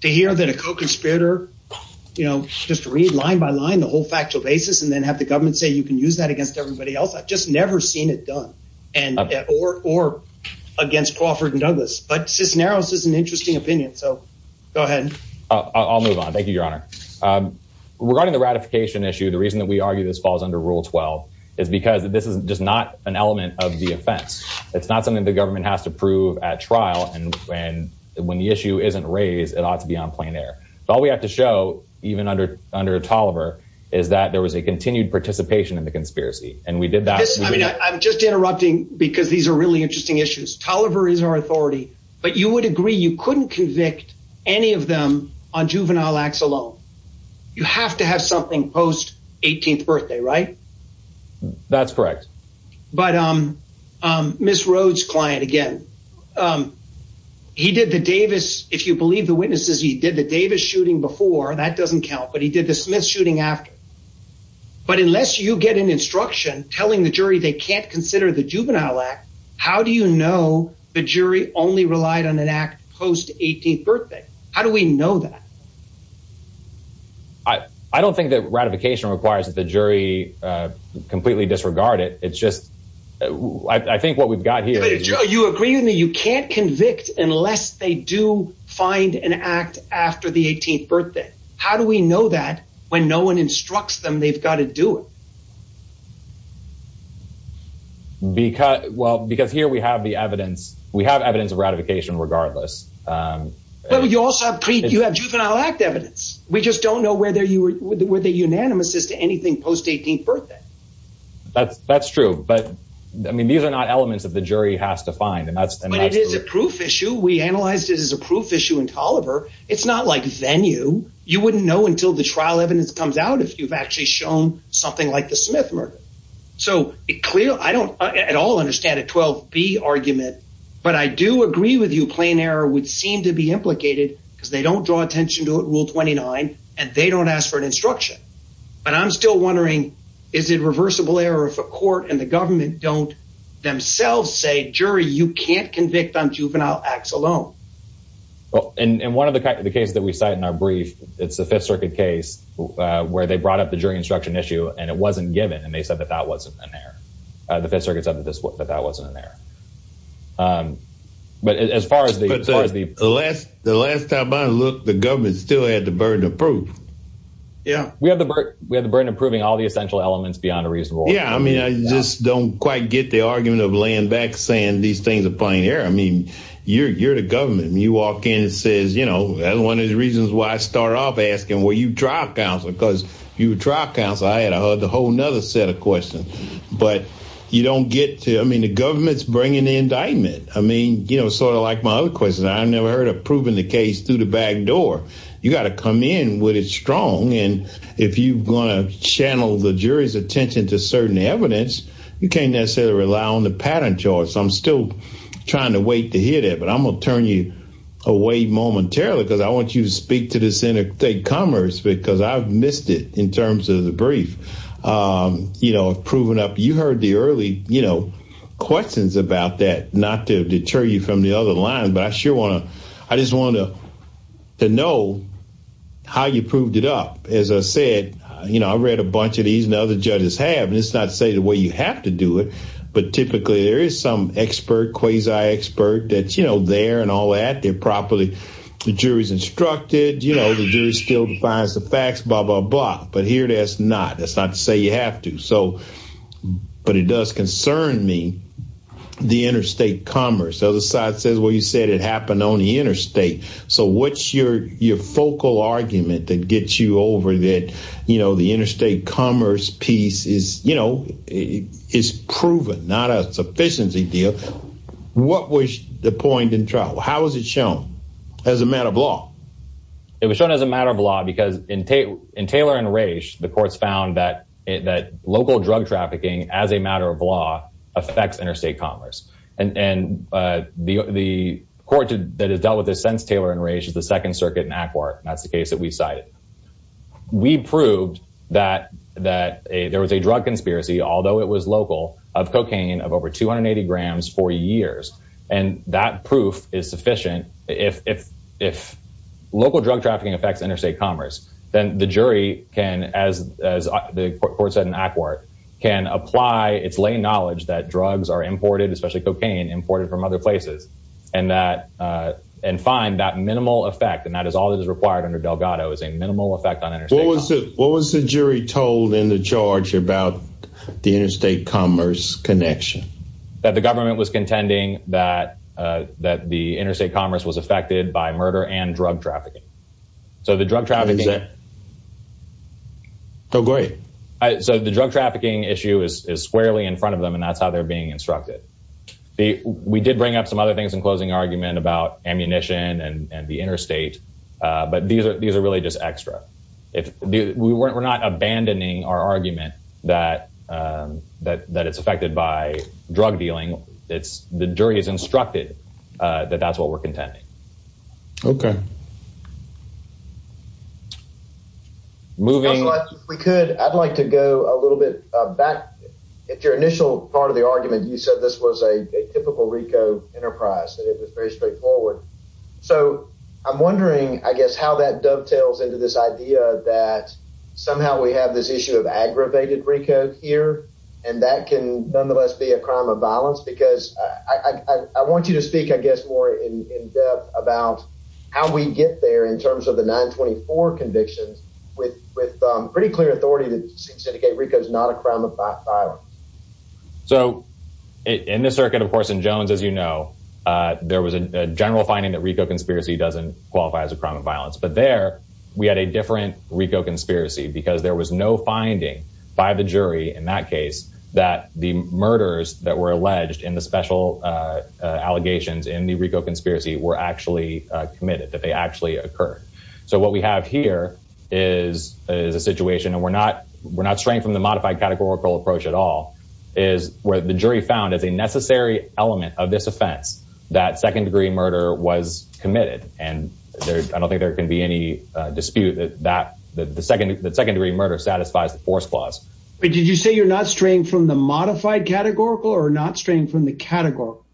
to hear that a co-conspirator, you know, just read line by line, the whole factual basis, and then have the government say, you can use that against everybody else. I've just never seen it done and, or, or against Crawford and Douglas, but since now, this is an interesting opinion. So go ahead. I'll move on. Thank you, Your Honor. Regarding the ratification issue, the reason that we argue this falls under rule 12 is because this is just not an element of the offense. It's not something that the government has to prove at trial. And when, when the issue isn't raised, it ought to be on plain air. So all we have to show, even under, under Tolliver is that there was a continued participation in the conspiracy. And we did that. I'm just interrupting because these are really interesting issues. Tolliver is our authority, but you would agree. You couldn't convict any of them on juvenile acts alone. You have to have something post 18th birthday, right? That's correct. But Ms. Rhodes client again, he did the Davis. If you believe the witnesses, he did the Davis shooting before that doesn't count, but he did the Smith shooting after, but unless you get an instruction telling the jury, they can't consider the juvenile act. How do you know the jury only relied on an act post 18th birthday? How do we know that? I, I don't think that ratification requires that the jury completely disregarded. It's just, I think what we've got here is you agree with me. You can't convict unless they do find an act after the 18th birthday. How do we know that when no one instructs them, they've got to do it. Because, well, because here we have the evidence, we have evidence of ratification regardless. You have juvenile act evidence. We just don't know whether you were, were they unanimous as to anything post 18th birthday. That's true, but I mean, these are not elements of the jury has to find and that's a proof issue. We analyzed it as a proof issue in Tolliver. It's not like venue. You wouldn't know until the trial evidence comes out. If you've actually shown something like the Smith murder. So it clear, I don't at all understand at 12 B argument, but I do agree with you. Plain error would seem to be implicated because they don't draw attention to it. Rule 29, and they don't ask for an instruction, but I'm still wondering, is it reversible error if a court and the government don't themselves say, jury, you can't convict on juvenile acts alone. Well, and, and one of the kinds of the cases that we started in our brief, it's the fifth circuit case where they brought up the jury instruction issue and it wasn't given. And they said that that wasn't in there. The fifth circuit said that that wasn't in there. But as far as the last, the last time I looked, the government still had the burden of proof. Yeah, we have the burden of proving all the essential elements beyond a reasonable. Yeah. I mean, I just don't quite get the argument of laying back saying these things are playing error. I mean, you're, you're the government and you walk in and says, you know, that's one of the reasons why I started off asking where you drop down because you drop down. So I had a whole another set of questions, but you don't get to, I mean, the government's bringing the indictment. I mean, you know, sort of like my other question, I've never heard of proving the case through the back door. You got to come in with it strong. And if you want to channel the jury's attention to certain evidence, you can't necessarily rely on the patent charge. So I'm still trying to wait to hear that, but I'm going to turn you away momentarily because I want you to speak to the Senate state commerce because I've missed it in terms of the brief, you know, proving up. You heard the early, you know, questions about that, not to deter you from the other line, but I sure want to, I just want to know how you proved it up. As I said, you know, I've read a bunch of these and other judges have, and it's not to say the way you have to do it, but typically there is some expert, quasi expert that, you know, there and all that, they're properly, the jury's instructed, you know, the jury still defines the facts, blah, blah, blah. But here, that's not, that's not to say you have to. So, but it does concern me, the interstate commerce, other side says what you said, it happened on the interstate. So what's your focal argument that gets you over that, you know, the interstate commerce piece is, you know, it's proven not a sufficiency deal. What was the point in trial? How has it shown as a matter of law? It was shown as a matter of law because in Taylor and Raich, the courts found that local drug trafficking as a matter of law affects interstate commerce. And the court that has Taylor and Raich is the second circuit in ACWRT. That's the case that we cited. We proved that there was a drug conspiracy, although it was local, of cocaine of over 280 grams for years. And that proof is sufficient. If local drug trafficking affects interstate commerce, then the jury can, as the court said in ACWRT, can apply its lay knowledge that drugs are imported, especially cocaine imported from other places. And that, and find that minimal effect. And that is all that is required under Delgado is a minimal effect on interstate commerce. What was the jury told in the charge about the interstate commerce connection? That the government was contending that, that the interstate commerce was affected by murder and drug trafficking. So the drug trafficking. Oh, great. So the drug trafficking issue is squarely in front of them. And that's how they're being instructed. We did bring up some other things in closing argument about ammunition and the interstate, but these are, these are really just extra. We weren't, we're not abandoning our argument that, that, that it's affected by drug dealing. It's the jury has instructed that that's what we're contending. Okay. Moving, we could, I'd like to go a little bit back. If your initial part of the argument, you said this was a typical RICO enterprise. It was very straightforward. So I'm wondering, I guess, how that dovetails into this idea that somehow we have this issue of aggravated RICO here, and that can nonetheless be a crime of violence, because I want you to speak, I guess, more in depth about how we get there in terms of the 924 conviction with, with pretty clear authority to indicate RICO is not a crime of violence. So in the circuit, of course, in Jones, as you know, there was a general finding that RICO conspiracy doesn't qualify as a crime of violence, but there we had a different RICO conspiracy because there was no finding by the were actually committed that they actually occur. So what we have here is a situation, and we're not, we're not straying from the modified categorical approach at all is where the jury found that the necessary element of this offense, that second degree murder was committed. And there's, I don't think there can be any dispute that, that the second, the second degree murder satisfies the force clause. Did you say you're not straying from the modified categorical or not straying from the categorical?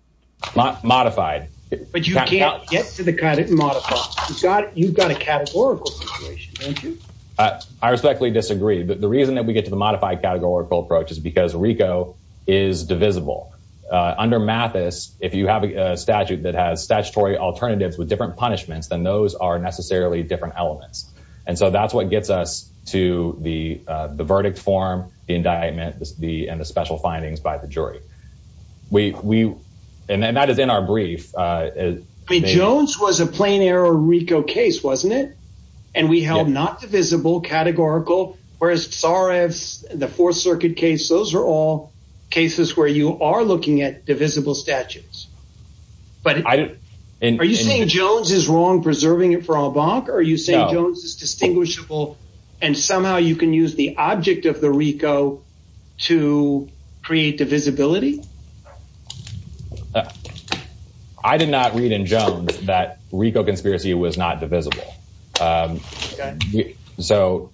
Modified. But you can't get to the categorical. You've got, you've got a categorical situation. Thank you. I respectfully disagree, but the reason that we get to the modified categorical approach is because RICO is divisible. Under Mathis, if you have a statute that has statutory alternatives with different punishments, then those are necessarily different elements. And so that's what gets us to the, uh, the verdict form, the indictment, the, and the special findings by the jury. We, we, and that is in our brief, uh, as Jones was a plain air or RICO case, wasn't it? And we held not divisible categorical, whereas the fourth circuit case, those are all cases where you are looking at divisible statutes, but are you saying Jones is wrong? Preserving it or you say Jones is distinguishable and somehow you can use the object of the RICO to create divisibility. I did not read in Jones that RICO conspiracy was not divisible. Um, so,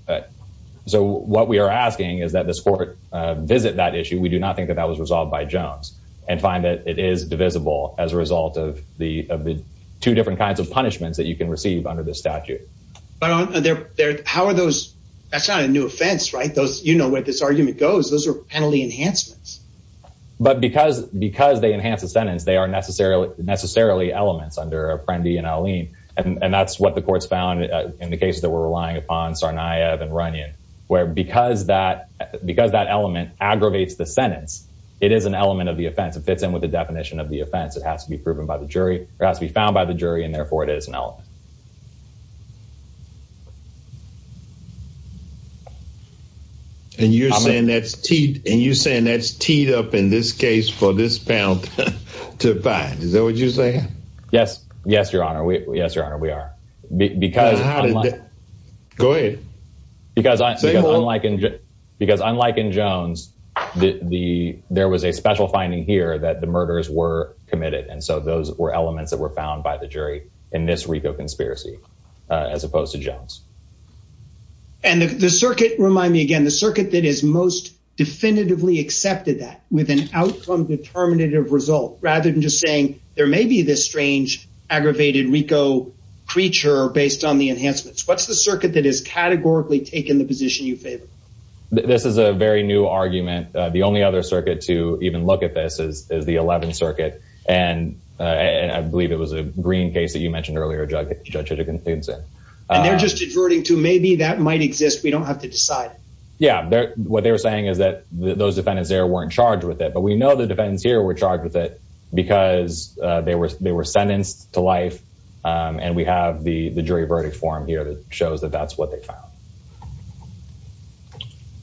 so what we are asking is that the sport, uh, visit that issue. We do not think that that was resolved by Jones and find that it is divisible as a result of the, of the two different kinds of punishments that you can receive under the statute. How are those, that's not a new offense, right? Those, you know, where this argument goes, those are penalty enhancements, but because, because they enhance the sentence, they are necessarily, necessarily elements under a friend and Eileen. And that's what the court's found in the case that we're relying upon Sarnia and running where, because that, because that element aggravates the sentence, it is an element of the offense and fits in with the definition of the offense. It has to be proven by the jury. It has to be found by the jury and therefore it is an element. And you're saying that's T and you're saying that's teed up in this case for this panel to find, is that what you're saying? Yes. Yes, your honor. We, yes, your honor. We are because go ahead because unlike in Jones, the, the, there was a special finding here that the jury in this week of conspiracy, uh, as opposed to Jones and the circuit, remind me again, the circuit that is most definitively accepted that with an outcome determinative result, rather than just saying there may be this strange aggravated Rico creature based on the enhancements. What's the circuit that is categorically taken the position you fit. This is a very new argument. The only other circuit to even look at this is the 11th circuit. And, uh, I believe it was a green case that you mentioned earlier, judge, judge had a consistent, uh, just adverting to maybe that might exist. We don't have to decide. Yeah. What they were saying is that those defendants there weren't charged with it, but we know the defendants here were charged with it because, uh, they were, they were sentenced to life. Um, and we have the, the jury verdict form here that shows that that's what they found.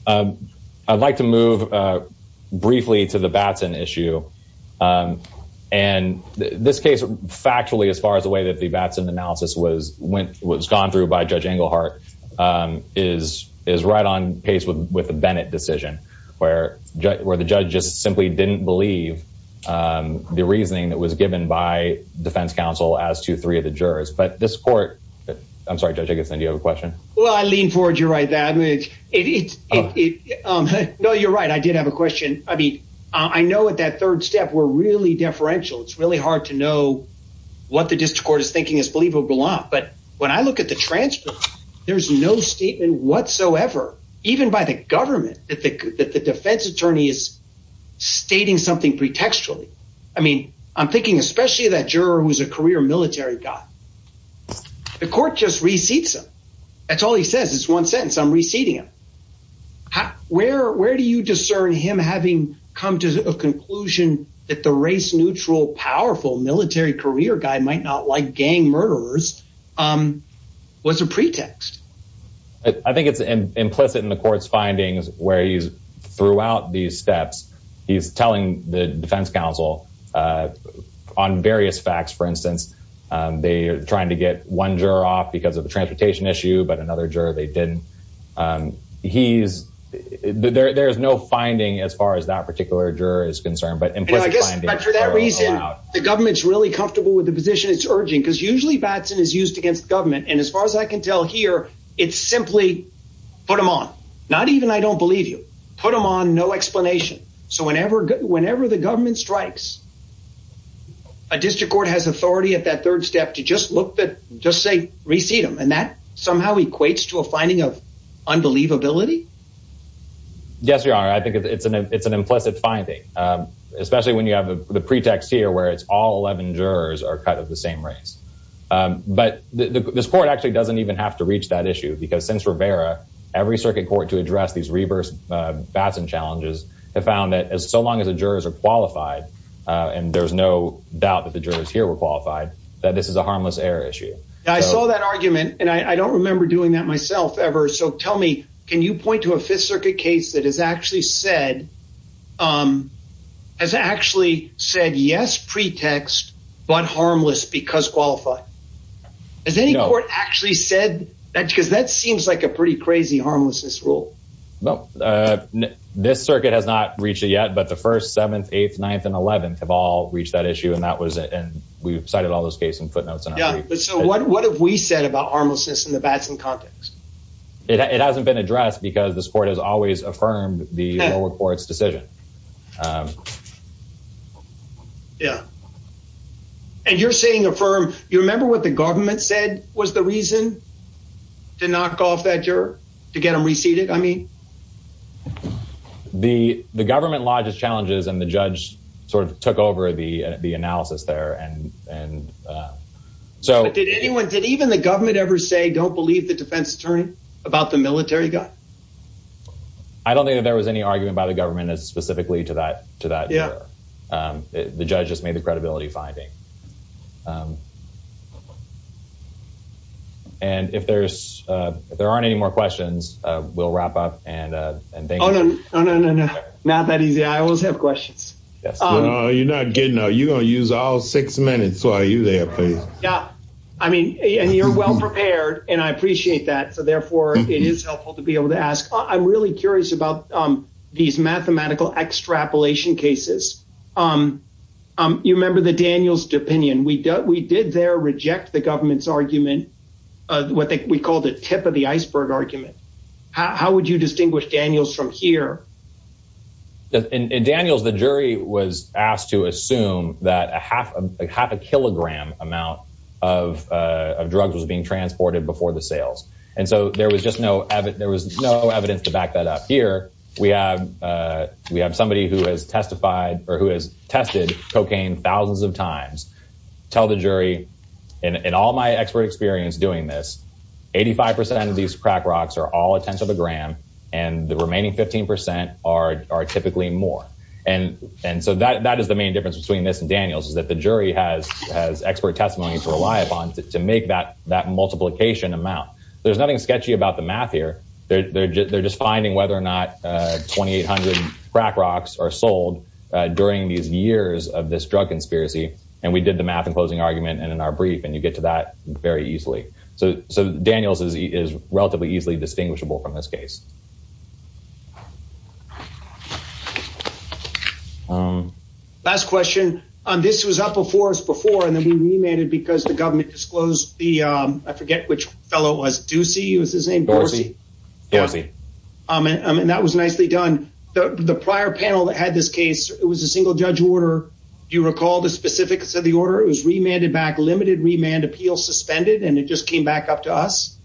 Um, I'd like to move, uh, briefly to the Batson issue. Um, and this case, factually, as far as the way that the Batson analysis was, went, was gone through by judge Englehart, um, is, is right on pace with, with the Bennett decision where, where the judge just simply didn't believe, um, the reasoning that was given by defense counsel as to three of the jurors, but this court, I'm sorry, judge Jacobson, do you have a question? Well, I lean forward. You're right, that it's, it's, it's, um, no, you're right. I did have a question. I mean, I know at that third step, we're really deferential. It's really hard to know what the district court is thinking is believable. But when I look at the transfer, there's no statement whatsoever, even by the government that the defense attorney is stating something pretextually. I mean, I'm thinking, especially that juror who's a career military guy, the court just receipts him. That's all he says. It's one sentence. I'm receiving him. Where, where do you discern him having come to the conclusion that the race neutral, powerful military career guy might not like gang murderers, um, was a pretext. I think it's implicit in the court's findings where he's steps. He's telling the defense council, uh, on various facts, for instance, um, they are trying to get one juror off because of the transportation issue, but another juror, they didn't, um, he's there, there's no finding as far as that particular juror is concerned, but I guess the government's really comfortable with the position it's urging because usually Batson is used against government. And as far as I can tell here, it's simply put them on, not even, I don't believe you put them on no explanation. So whenever, whenever the government strikes a district court has authority at that third step to just look at, just say, receive them. And that somehow equates to a finding of unbelievability. Yes, you are. I think it's an, it's an implicit finding, um, especially when you have the pretext here, where it's all 11 jurors are kind of the same race. Um, but the court actually doesn't even have to reach that issue because since Rivera, every circuit court to address these reverse Batson challenges have found that as so long as the jurors are qualified, uh, and there's no doubt that the jurors here were qualified, that this is a harmless error issue. I saw that argument and I don't remember doing that myself ever. So tell me, can you point to a fifth circuit case that has actually said, um, has actually said yes, pretext, but harmless because qualified. Has any court actually said that? Cause that seems like a pretty crazy harmless school. Nope. Uh, this circuit has not reached it yet, but the first seventh, eighth, ninth and 11th have all reached that issue. And that was it. And we've cited all those cases and footnotes. So what have we said about harmless system in the Batson context? It hasn't been addressed because the sport has always affirmed the court's decision. Um, yeah. And you're saying affirm, you remember what the government said was the reason to knock off that juror to get them reseated? I mean, the, the government lodges challenges and the judge sort of took over the, uh, the analysis there. And, and, uh, so did anyone, did even the government ever say, don't believe the defense attorney about the military guy? I don't think that there was any argument by the government specifically to that, to that. Yeah. Um, the judge just made the credibility finding. And if there's, uh, if there aren't any more questions, uh, we'll wrap up and, uh, and thank you. Oh, no, no, no, no, not that easy. I always have questions. Yes. You're not getting out. You don't use all six minutes. So are you there? Yeah. I mean, and you're well prepared and I appreciate that. So therefore it is helpful to be able to ask. I'm really curious about, um, these mathematical extrapolation cases. Um, um, you remember the Daniels opinion we dealt, we did there reject the government's argument of what we called the tip of the iceberg argument. How would you distinguish Daniels from here? That in Daniels, the jury was asked to assume that a half a half a kilogram amount of, uh, of drugs was being transported before the sales. And so there was just no, there was no evidence to back that up here. We have, uh, we have somebody who has testified or who has tested cocaine thousands of times tell the jury and all my expert experience doing this 85% of these crack rocks are all a tenth of a gram and the remaining 15% are, are typically more. And, and so that, that is the main difference between this and Daniels is that the jury has, has expert testimony to rely upon to make that, that multiplication amount. There's nothing sketchy about the math here. They're, they're just, they're just finding whether or not, uh, 2,800 crack rocks are sold, uh, during these years of this drug conspiracy. And we did the math and closing argument and in our brief, and you get to that very easily. So, so Daniels is relatively easily distinguishable from this case. Last question. Um, this was up before us before, and I mean, we made it because the government disclosed the, um, I forget which fellow was juicy. It was the same. Um, and that was nicely done. The prior panel that had this case, it was a single judge order. Do you recall the specifics of the order? It was remanded back, limited remand appeal suspended, and it just came back up to us.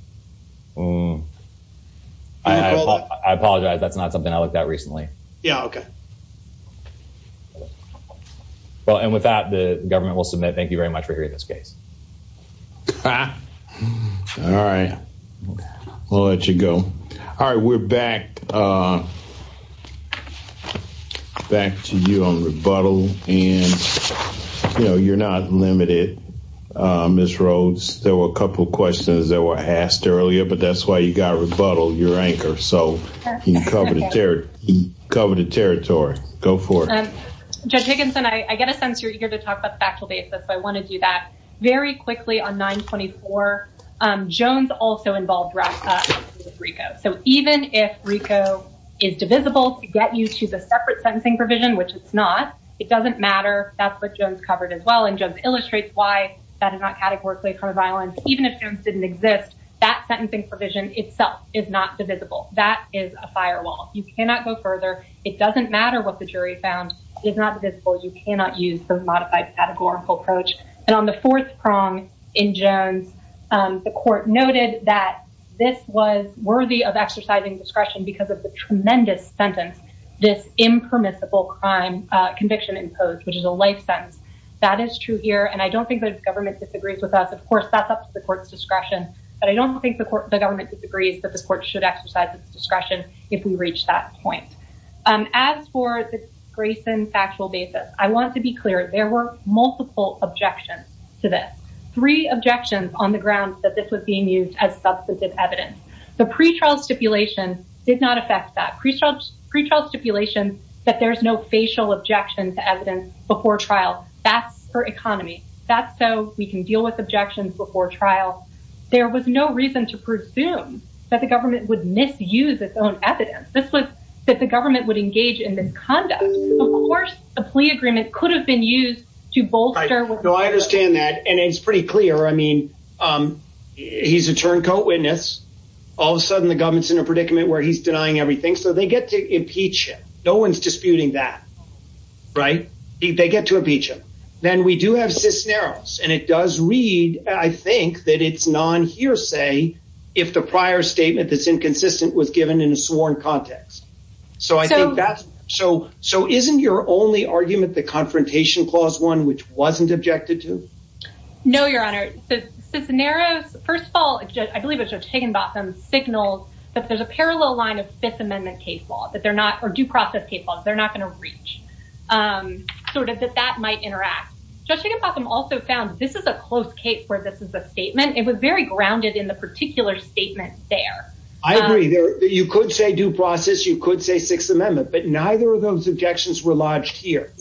I apologize. That's not something I looked at recently. Yeah. Okay. Well, and with that, the government will submit, thank you very much for hearing this case. Ah, all right. We'll let you go. All right. We're back. Uh, back to you on rebuttal and, you know, you're not limited. Um, this Rhodes, there were a couple of questions that were asked earlier, but that's why you got to rebuttal your anchor. So you can cover the terror, cover the territory. Go for it. Judge Higginson. I get a sense you're here to I want to do that very quickly on nine 24. Um, Jones also involved. So even if Rico is divisible to get you to the separate sentencing provision, which it's not, it doesn't matter. That's what Jones covered as well. And just illustrates why that is not categorically kind of violence, even if students didn't exist, that sentencing provision itself is not divisible. That is a firewall. You cannot go further. It doesn't matter what the jury found is not visible. You cannot use the modified categorical approach. And on the fourth prong in Jones, um, the court noted that this was worthy of exercising discretion because of the tremendous sentence, this impermissible crime, uh, conviction imposed, which is a lifetime. That is true here. And I don't think the government disagrees with us. Of course, that's up to the court's discretion, but I don't think the court, the government disagrees that should exercise discretion. If we reach that point, um, as for the Grayson factual basis, I want it to be clear. There were multiple objections to that three objections on the grounds that this was being used as substantive evidence. The pre-trial stipulation did not affect that pre-trial pre-trial stipulation that there's no facial objections to evidence before trial. That's her economy. That's so we can deal with objections before trial. There was no reason to presume that the government would misuse its own evidence. This was that the government would engage in misconduct. Of course, a plea agreement could have been used to bolster. No, I understand that. And it's pretty clear. I mean, um, he's a turncoat witness. All of a sudden the government's in a predicament where he's denying everything. So they get to impeach. No one's disputing that, right? They get to impeachment. Then we do have this narrows and it does read, I think that it's non hearsay if the prior statement that's inconsistent was given in a sworn context. So I think that's, so, so isn't your only argument, the confrontation clause one, which wasn't objected to? No, your honor, the scenario, first of all, I believe it's just taken about them signals, but there's a parallel line of fifth amendment case law that they're not or do process people. They're not going to reach. Um, so does that, that might interact just a problem also found this is a close case where this is a statement. It was very grounded in the particular statement there. I agree that you could say due process, you could say sixth amendment, but neither of those objections were lodged here.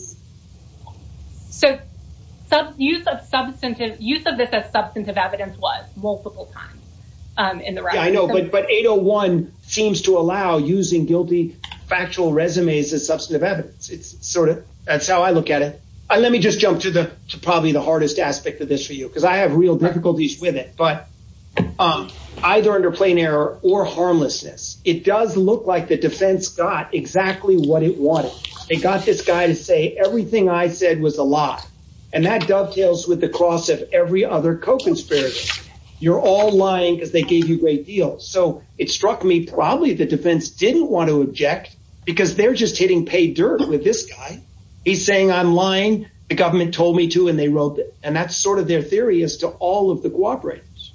So use of substantive use of this as substantive evidence was multiple times. Um, and I know, but, but 801 seems to allow using guilty factual resumes as substantive evidence. It's sort of, that's how I look at it. Let me just jump to the, to probably the hardest aspect of this for you, because I have real difficulties with it, but, um, either under plain error or harmlessness, it does look like the defense got exactly what it wanted. It got this guy to say, everything I said was a lot. And that dovetails with the cost of every other co-conspiracy. You're all lying because they gave you great deals. So it struck me, probably the defense didn't want to object because they're just hitting pay dirt with this guy. He's saying, I'm lying. The government told me to, and they wrote that. And that's sort of their theory as to all of the cooperatives.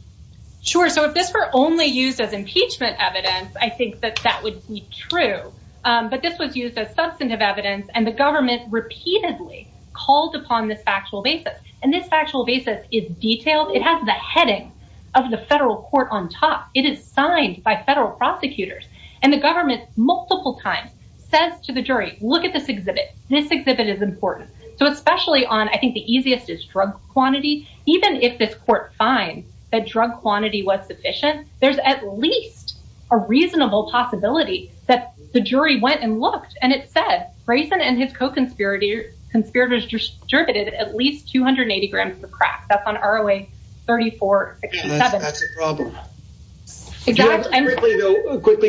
Sure. So if this were only used as impeachment evidence, I think that that would be true. Um, but this was used as substantive evidence and the government repeatedly called upon the factual basis. And this factual basis is detailed. It has the heading of the federal court on top. It is signed by federal prosecutors and the government multiple times says to the jury, look at this exhibit. This exhibit is important. So especially on, I think the easiest is drug quantity. Even if this court finds that drug quantity was sufficient, there's at least a reasonable possibility that the jury went and looked and it said, raise it. And his co-conspirators conspirators distributed at least 280 grams of crack. That's on our way. 34 quickly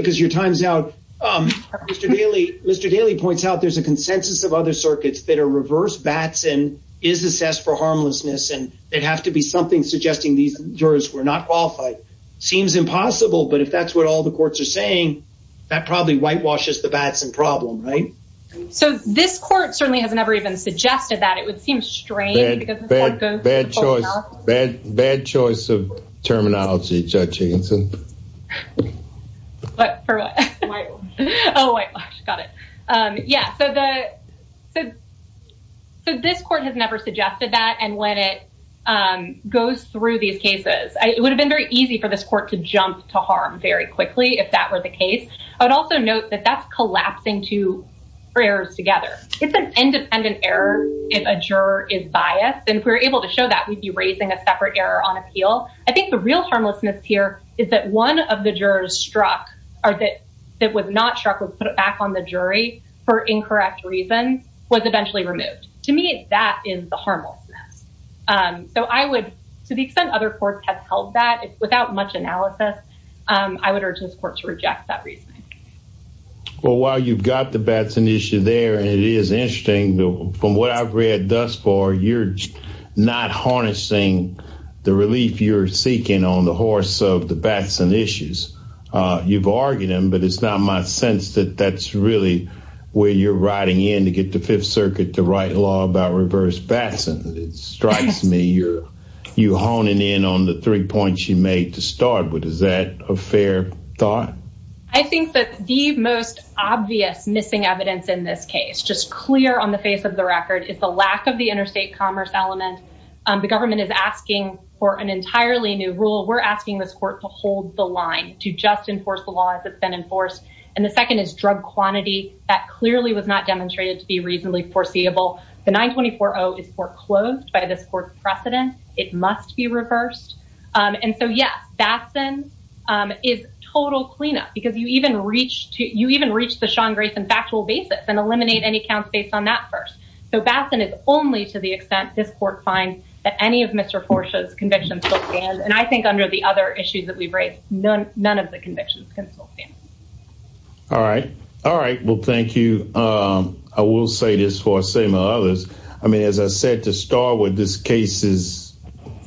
because your time's out. Um, Mr. Daly, Mr. Daly points out there's a consensus of other circuits that are reversed bats and is assessed for harmlessness. And it has to be something suggesting these jurors were not qualified. It seems impossible, but if that's what all the courts are saying, that probably whitewashes the bats and problem, right? So this court certainly has never even suggested that it would seem strange bad choice, bad, bad choice of terminology. Oh, I got it. Um, yeah. So the, the, so this court has never suggested that. And when it, um, goes through these cases, I, it would have been very easy for this court to jump to harm very quickly if that were the case, but also note that that's collapsing to prayers together. It's an independent error. If a juror is biased and we're able to show that we'd be raising a separate error on appeal. I think the real harmlessness here is that one of the jurors struck or that it was not struck with, put it back on the jury for incorrect reason was eventually removed to me. That is the harmless. Um, so I would, to the extent other courts have held that it's without much analysis, um, I would urge this court to reject that reason. Well, while you've got the Batson issue there, and it is interesting from what I've read thus far, you're not harnessing the relief you're seeking on the horse of the Batson issues. Uh, you've argued them, but it's not my sense that that's really where you're riding in to get the fifth circuit to write law about reverse Batson strikes me. You're you honing in on the points you made to start with. Is that a fair thought? I think that the most obvious missing evidence in this case, just clear on the face of the record, it's a lack of the interstate commerce elements. Um, the government is asking for an entirely new rule. We're asking this court to hold the line to just enforce the law as it's been enforced. And the second is drug quantity. That clearly was not demonstrated to be reasonably foreseeable. The nine 24, is foreclosed by this court precedent. It must be reversed. Um, and so yeah, Batson, um, is total cleanup because you even reach to, you even reach the Sean Grayson factual basis and eliminate any counts based on that first. So Batson is only to the extent this court finds that any of Mr. Porsche's convictions and I think under the other issues that we've raised, none, none of the convictions. All right. All right. Well, thank you. Um, I will say this for a statement of others. I mean, as I said, to start with this case is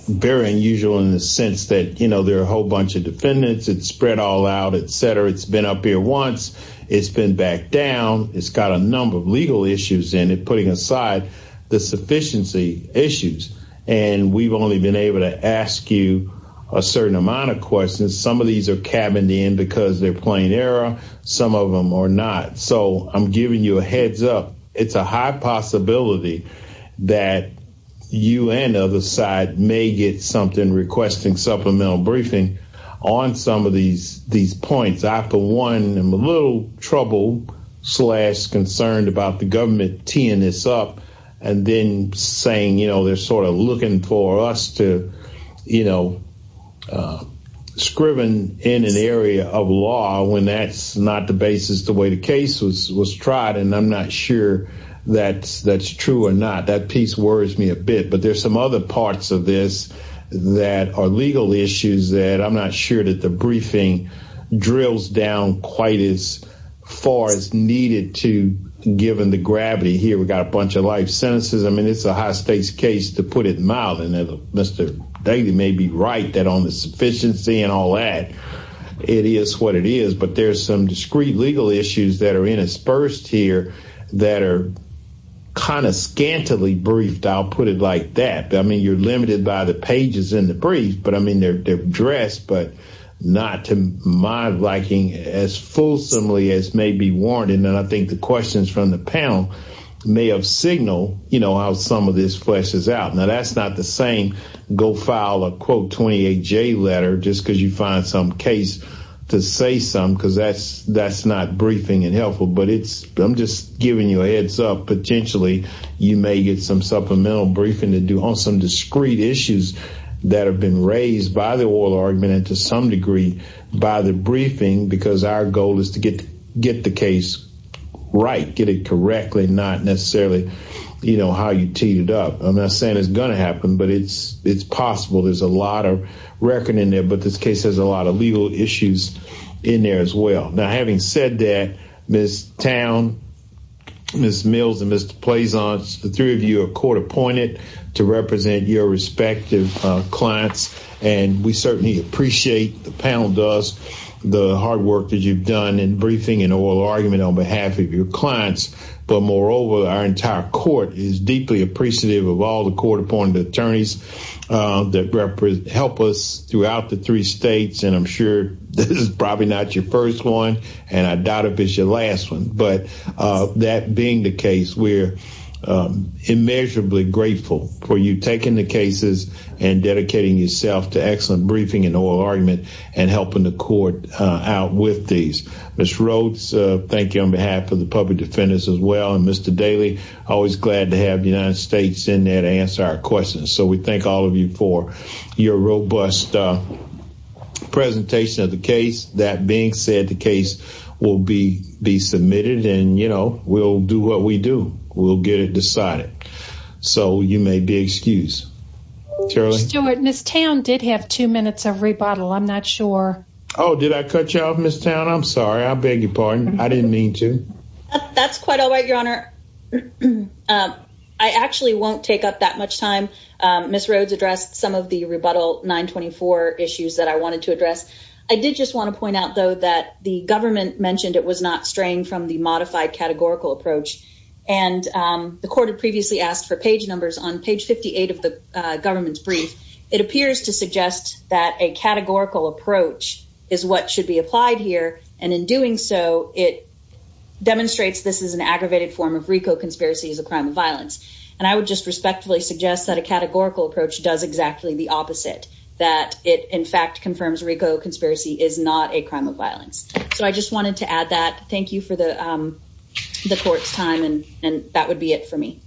very unusual in the sense that, you know, there are a whole bunch of defendants, it's spread all out, et cetera. It's been up here once it's been back down. It's got a number of legal issues in it, putting aside the sufficiency issues. And we've only been able to ask you a certain amount of questions. Some of these are cabin in because they're playing error. Some of them are not. So I'm giving you a heads up. It's a high possibility that you and the other side may get something requesting supplemental briefing on some of these, these points after one, I'm a little troubled slash concerned about the government teeing this up and then saying, you know, they're sort of looking for us to, you know, scriven in an area of law when that's not the basis, the way the case was tried. And I'm not sure that that's true or not. That piece worries me a bit. But there's some other parts of this that are legal issues that I'm not sure that the briefing drills down quite as far as needed to given the gravity here. We've got a bunch of life sentences. I mean, it's a high stakes case, to put it mildly, Mr. David may be right that on the sufficiency and all that it is what it is. There's some discreet legal issues that are interspersed here that are kind of scantily briefed. I'll put it like that. I mean, you're limited by the pages in the brief, but I mean, they're addressed, but not to my liking, as fulsomely as may be warranted. And I think the questions from the panel may have signal, you know, how some of this fleshes out. Now, that's not the go file a quote 28 J letter just because you find some case to say some because that's that's not briefing and helpful, but it's I'm just giving you a heads up. Potentially, you may get some supplemental briefing to do on some discreet issues that have been raised by the oral argument to some degree by the briefing, because our goal is to get get the case right, get it correctly, not necessarily, you know, how you teed it up. I'm not saying it's going to happen, but it's, it's possible there's a lot of reckoning there. But this case has a lot of legal issues in there as well. Now, having said that, this town, Miss Mills and Mr. plays on the three of you are court appointed to represent your respective clients. And we certainly appreciate the panel does the hard work that you've done and briefing and oral argument on behalf of your clients. But moreover, our entire court is deeply appreciative of all the court appointed attorneys that help us throughout the three states. And I'm sure this is probably not your first one. And I doubt if it's your last one. But that being the case, we're immeasurably grateful for you taking the cases and dedicating yourself to excellent briefing and oral argument and helping the court out with these. This Rhodes, thank you on behalf of the public defendants as well. And Mr. Daly, always glad to have the United States in there to answer our questions. So we thank all of you for your robust presentation of the case. That being said, the case will be be submitted. And you know, we'll do what we do. We'll get it decided. So you may be excused. Stuart, Miss Tam did have two minutes of rebuttal. I'm not sure. Oh, did I cut you off, Miss Tam? I'm sorry. I beg your pardon. I didn't mean to. That's quite all right, Your Honor. I actually won't take up that much time. Miss Rhodes addressed some of the rebuttal 924 issues that I wanted to address. I did just want to point out, though, that the government mentioned it was not strained from the modified categorical approach. And the court had previously asked for page numbers on page 58 of the government's brief. It appears to suggest that a categorical approach is what should be applied here. And in doing so, it demonstrates this is an aggravated form of RICO conspiracy as a crime of violence. And I would just respectfully suggest that a categorical approach does exactly the opposite, that it in fact confirms RICO conspiracy is not a crime of violence. So I just wanted to add that. Thank you for the court's time. And that would be it for me.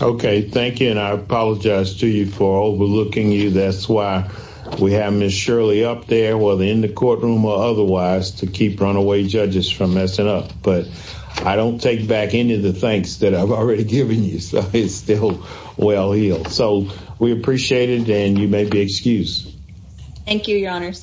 Okay. Thank you. And I apologize to you for overlooking you. That's why we have Miss Shirley up there, whether in the courtroom or otherwise, to keep runaway judges from messing up. But I don't take back any of the thanks that I've already given you. So it's still well-heeled. So we appreciate it. And you may be excused. Thank you, Your Honor.